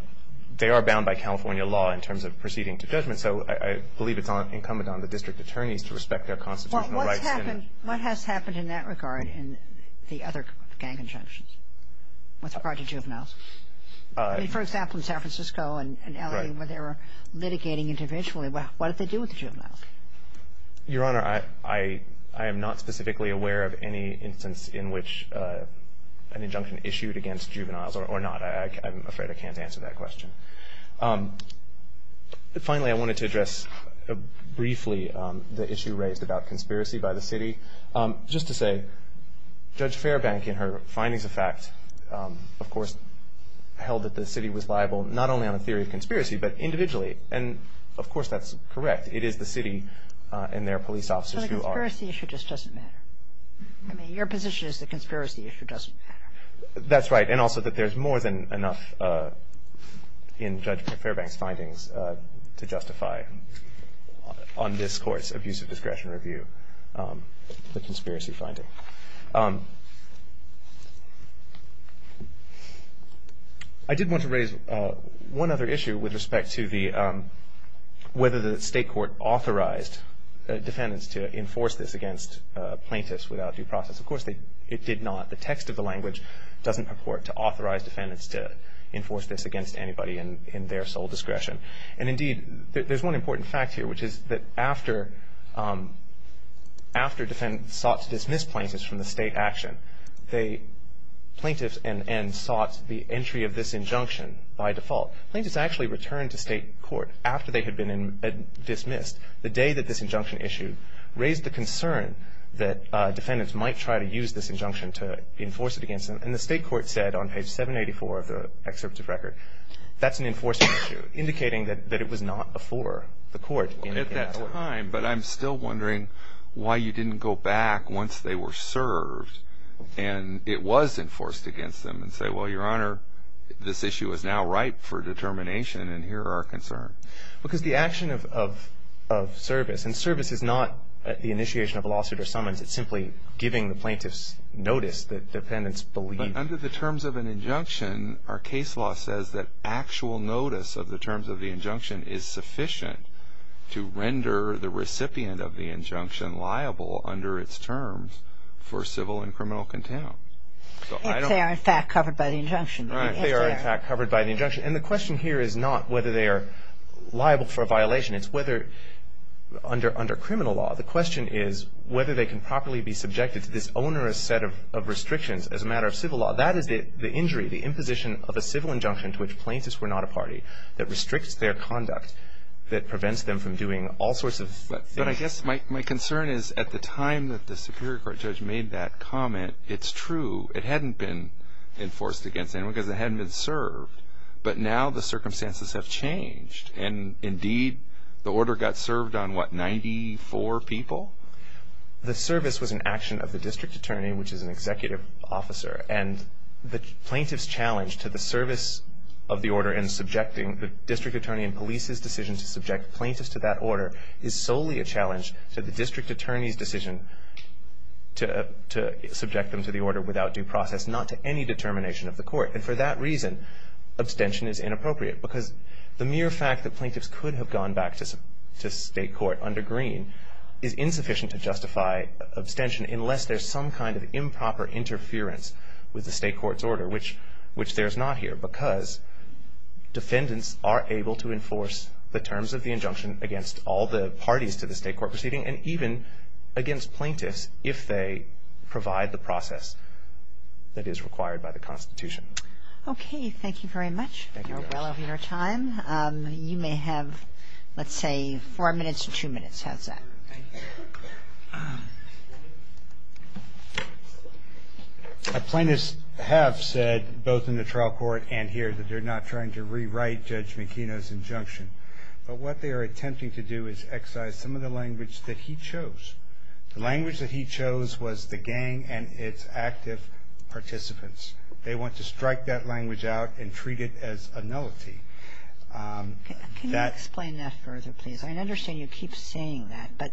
they are bound by California law in terms of proceeding to judgment, so I believe it's incumbent on the district attorneys to respect their constitutional rights. What has happened in that regard in the other gang injunctions with regard to juveniles? I mean, for example, in San Francisco and L.A. where they were litigating individually, what did they do with the juveniles? Your Honor, I am not specifically aware of any instance in which an injunction issued against juveniles or not. I'm afraid I can't answer that question. Finally, I wanted to address briefly the issue raised about conspiracy by the city. Just to say, Judge Fairbank in her findings of fact, of course, held that the city was liable not only on a theory of conspiracy but individually, and of course that's correct. It is the city and their police officers who are. So the conspiracy issue just doesn't matter? I mean, your position is the conspiracy issue doesn't matter? That's right, and also that there's more than enough in Judge Fairbank's findings to justify on this Court's abuse of discretion review the conspiracy finding. I did want to raise one other issue with respect to whether the state court authorized defendants to enforce this against plaintiffs without due process. Of course, it did not. The text of the language doesn't purport to authorize defendants to enforce this against anybody in their sole discretion. And indeed, there's one important fact here, which is that after defendants sought to dismiss plaintiffs from the state action, plaintiffs and ends sought the entry of this injunction by default. Plaintiffs actually returned to state court after they had been dismissed. The day that this injunction issue raised the concern that defendants might try to use this injunction to enforce it against them, and the state court said on page 784 of the excerpt of record, that's an enforcement issue, indicating that it was not before the court indicated. At that time, but I'm still wondering why you didn't go back once they were served and it was enforced against them and say, well, Your Honor, this issue is now ripe for determination and here are our concerns. Because the action of service, and service is not the initiation of a lawsuit or summons, it's simply giving the plaintiffs notice that defendants believe. But under the terms of an injunction, our case law says that actual notice of the terms of the injunction is sufficient to render the recipient of the injunction liable under its terms for civil and criminal contempt. If they are in fact covered by the injunction. Right, if they are in fact covered by the injunction. And the question here is not whether they are liable for a violation, it's whether under criminal law, the question is whether they can properly be subjected to this onerous set of restrictions as a matter of civil law. That is the injury, the imposition of a civil injunction to which plaintiffs were not a party that restricts their conduct, that prevents them from doing all sorts of things. But I guess my concern is at the time that the Superior Court judge made that comment, it's true, it hadn't been enforced against anyone because it hadn't been served. But now the circumstances have changed. And indeed, the order got served on what, 94 people? The service was an action of the district attorney, which is an executive officer. And the plaintiff's challenge to the service of the order and subjecting the district attorney and police's decision to subject plaintiffs to that order is solely a challenge to the district attorney's decision to subject them to the order without due process, not to any determination of the court. And for that reason, abstention is inappropriate because the mere fact that plaintiffs could have gone back to state court under Greene is insufficient to justify abstention unless there's some kind of improper interference with the state court's order, which there's not here because defendants are able to enforce the terms of the injunction against all the parties to the state court proceeding and even against plaintiffs if they provide the process that is required by the Constitution. Okay. Thank you very much. Thank you very much. You're well over your time. You may have, let's say, four minutes or two minutes. How's that? Plaintiffs have said, both in the trial court and here, that they're not trying to rewrite Judge McKenna's injunction. But what they are attempting to do is excise some of the language that he chose. The language that he chose was the gang and its active participants. They want to strike that language out and treat it as a nullity. Can you explain that further, please? I understand you keep saying that, but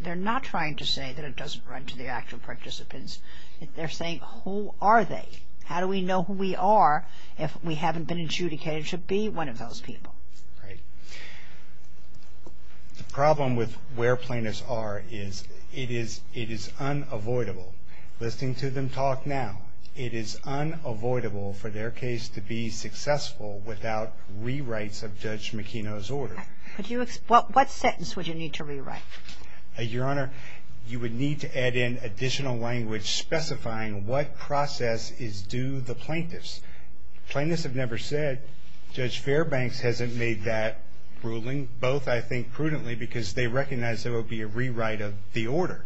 they're not trying to say that it doesn't run to the active participants. They're saying, who are they? How do we know who we are if we haven't been adjudicated to be one of those people? Right. The problem with where plaintiffs are is it is unavoidable. Listening to them talk now, it is unavoidable for their case to be successful without rewrites of Judge McKenna's order. What sentence would you need to rewrite? Your Honor, you would need to add in additional language specifying what process is due the plaintiffs. Plaintiffs have never said Judge Fairbanks hasn't made that ruling. Both, I think, prudently because they recognize there will be a rewrite of the order.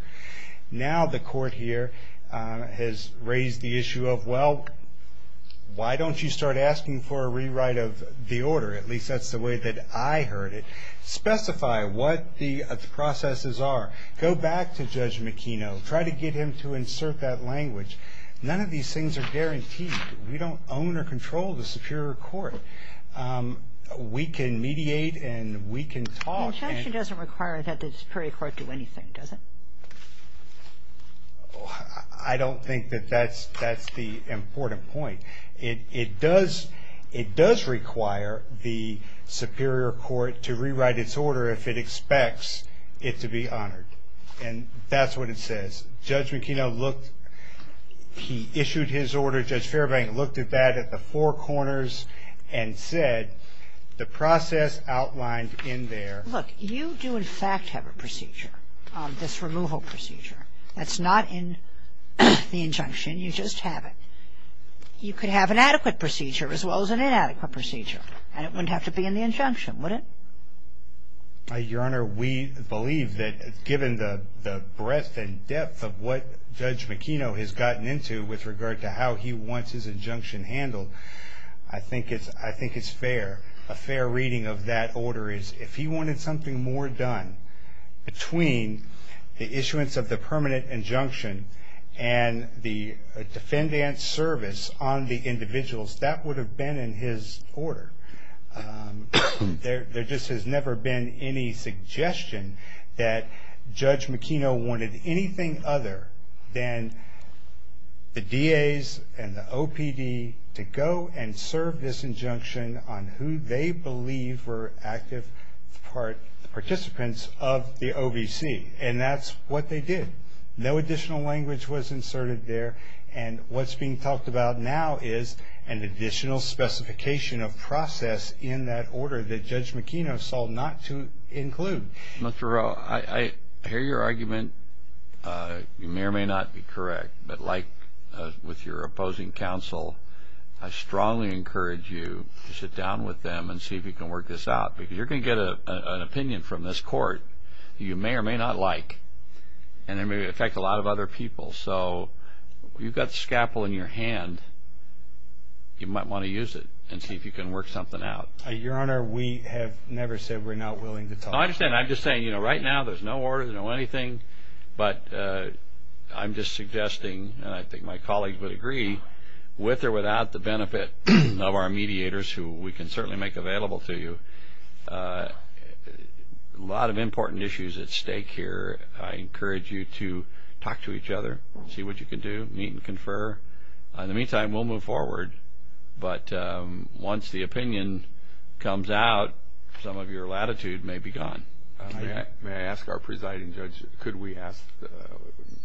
Now the court here has raised the issue of, well, why don't you start asking for a rewrite of the order? At least that's the way that I heard it. Specify what the processes are. Go back to Judge McKenna. Try to get him to insert that language. None of these things are guaranteed. We don't own or control the Superior Court. We can mediate and we can talk. The injunction doesn't require that the Superior Court do anything, does it? I don't think that that's the important point. It does require the Superior Court to rewrite its order if it expects it to be honored. And that's what it says. Judge McKenna looked. He issued his order. Judge Fairbank looked at that at the four corners and said, the process outlined in there. Look, you do in fact have a procedure, this removal procedure. That's not in the injunction. You just have it. You could have an adequate procedure as well as an inadequate procedure, and it wouldn't have to be in the injunction, would it? Your Honor, we believe that given the breadth and depth of what Judge McKenna has gotten into with regard to how he wants his injunction handled, I think it's fair. A fair reading of that order is if he wanted something more done between the issuance of the permanent injunction and the defendant's service on the individuals, that would have been in his order. There just has never been any suggestion that Judge McKenna wanted anything other than the DAs and the OPD to go and serve this injunction on who they believe were active participants of the OVC. And that's what they did. No additional language was inserted there. And what's being talked about now is an additional specification of process in that order that Judge McKenna sought not to include. Mr. Rowe, I hear your argument. You may or may not be correct, but like with your opposing counsel, I strongly encourage you to sit down with them and see if you can work this out, because you're going to get an opinion from this court that you may or may not like, and it may affect a lot of other people. So you've got the scalpel in your hand. You might want to use it and see if you can work something out. Your Honor, we have never said we're not willing to talk. I understand. I'm just saying, you know, right now there's no order, no anything, but I'm just suggesting, and I think my colleagues would agree, with or without the benefit of our mediators, who we can certainly make available to you, a lot of important issues at stake here. I encourage you to talk to each other, see what you can do, meet and confer. In the meantime, we'll move forward. But once the opinion comes out, some of your latitude may be gone. May I ask our presiding judge, could we ask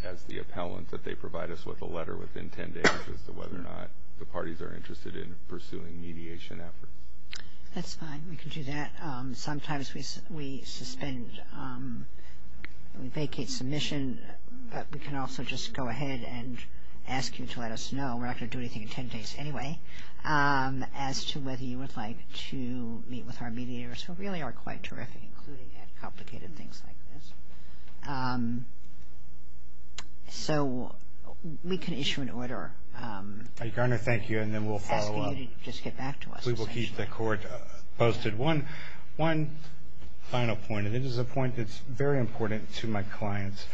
as the appellant that they provide us with a letter within ten days as to whether or not the parties are interested in pursuing mediation efforts? That's fine. We can do that. Sometimes we suspend, we vacate submission, but we can also just go ahead and ask you to let us know. We're not going to do anything in ten days anyway, as to whether you would like to meet with our mediators, who really are quite terrific, including at complicated things like this. So we can issue an order. Your Honor, thank you, and then we'll follow up. Asking you to just get back to us essentially. We will keep the court posted. One final point, and this is a point that's very important to my clients.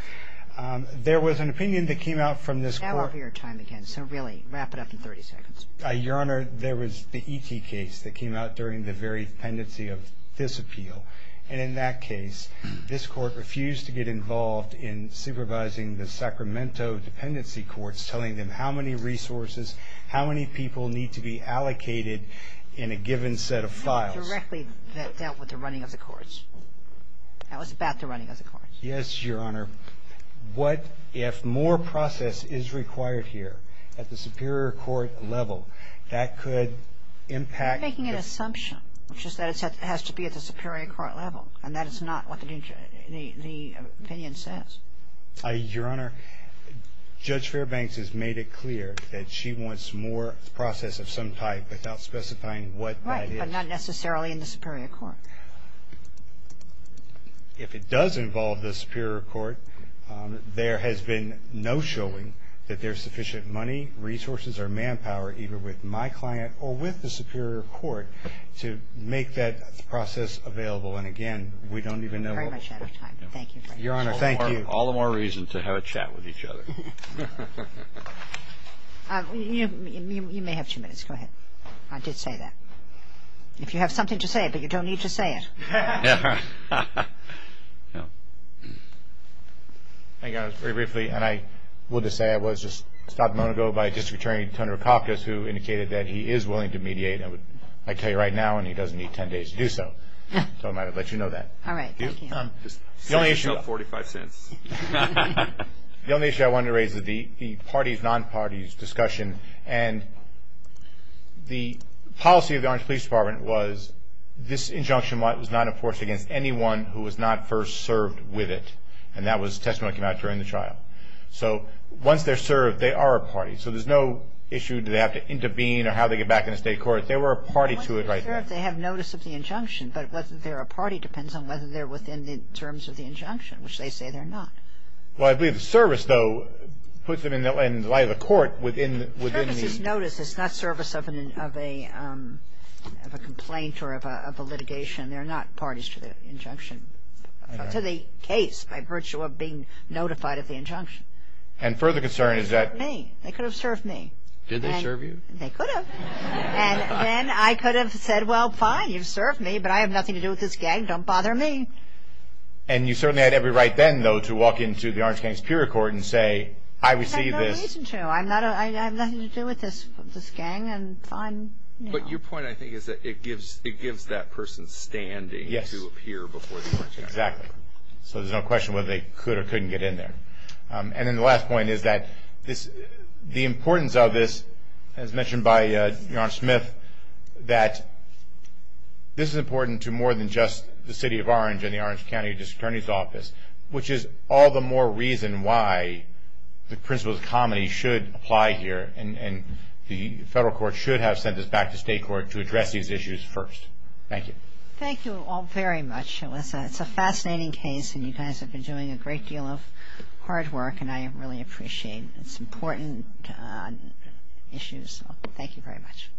There was an opinion that came out from this court. Now over your time again, so really wrap it up in 30 seconds. Your Honor, there was the ET case that came out during the very pendency of this appeal, and in that case this court refused to get involved in supervising the Sacramento dependency courts, telling them how many resources, how many people need to be allocated in a given set of files. That directly dealt with the running of the courts. That was about the running of the courts. Yes, Your Honor. What if more process is required here at the superior court level? That could impact. You're making an assumption. It's just that it has to be at the superior court level, and that is not what the opinion says. Your Honor, Judge Fairbanks has made it clear that she wants more process of some type without specifying what that is. Right, but not necessarily in the superior court. If it does involve the superior court, there has been no showing that there's sufficient money, resources, or manpower either with my client or with the superior court to make that process available. And again, we don't even know. We're very much out of time. Thank you. Your Honor, thank you. All the more reason to have a chat with each other. You may have two minutes. Go ahead. I did say that. If you have something to say, but you don't need to say it. Thank you, Your Honor. Very briefly, and I will just say I was just stopped a moment ago by District Attorney, Detective Rokakis, who indicated that he is willing to mediate. I tell you right now, and he doesn't need 10 days to do so. So I'm going to let you know that. All right, thank you. 45 cents. The only issue I wanted to raise is the parties, non-parties discussion. And the policy of the Orange Police Department was this injunction was not enforced against anyone who was not first served with it. And that was the testimony that came out during the trial. So once they're served, they are a party. So there's no issue do they have to intervene or how they get back in the state court. They were a party to it right then. I'm not sure if they have notice of the injunction. But whether they're a party depends on whether they're within the terms of the injunction, which they say they're not. Well, I believe the service, though, puts them in the light of the court within the ‑‑ Service is notice. It's not service of a complaint or of a litigation. They're not parties to the injunction, to the case by virtue of being notified of the injunction. And further concern is that ‑‑ They could have served me. They could have served me. Did they serve you? They could have. And then I could have said, well, fine, you've served me, but I have nothing to do with this gang. Don't bother me. And you certainly had every right then, though, to walk into the Orange County Superior Court and say, I received this. I have no reason to. I have nothing to do with this gang, and fine. But your point, I think, is that it gives that person standing to appear before the court. Exactly. So there's no question whether they could or couldn't get in there. And then the last point is that the importance of this, as mentioned by Your Honor Smith, that this is important to more than just the City of Orange and the Orange County District Attorney's Office, which is all the more reason why the principles of comity should apply here, and the federal court should have sent this back to state court to address these issues first. Thank you. Thank you all very much, Alyssa. It's a fascinating case, and you guys have been doing a great deal of hard work, and I really appreciate it. It's an important issue, so thank you very much.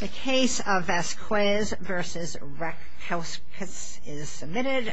The case of Vasquez v. Ratkowskis is submitted.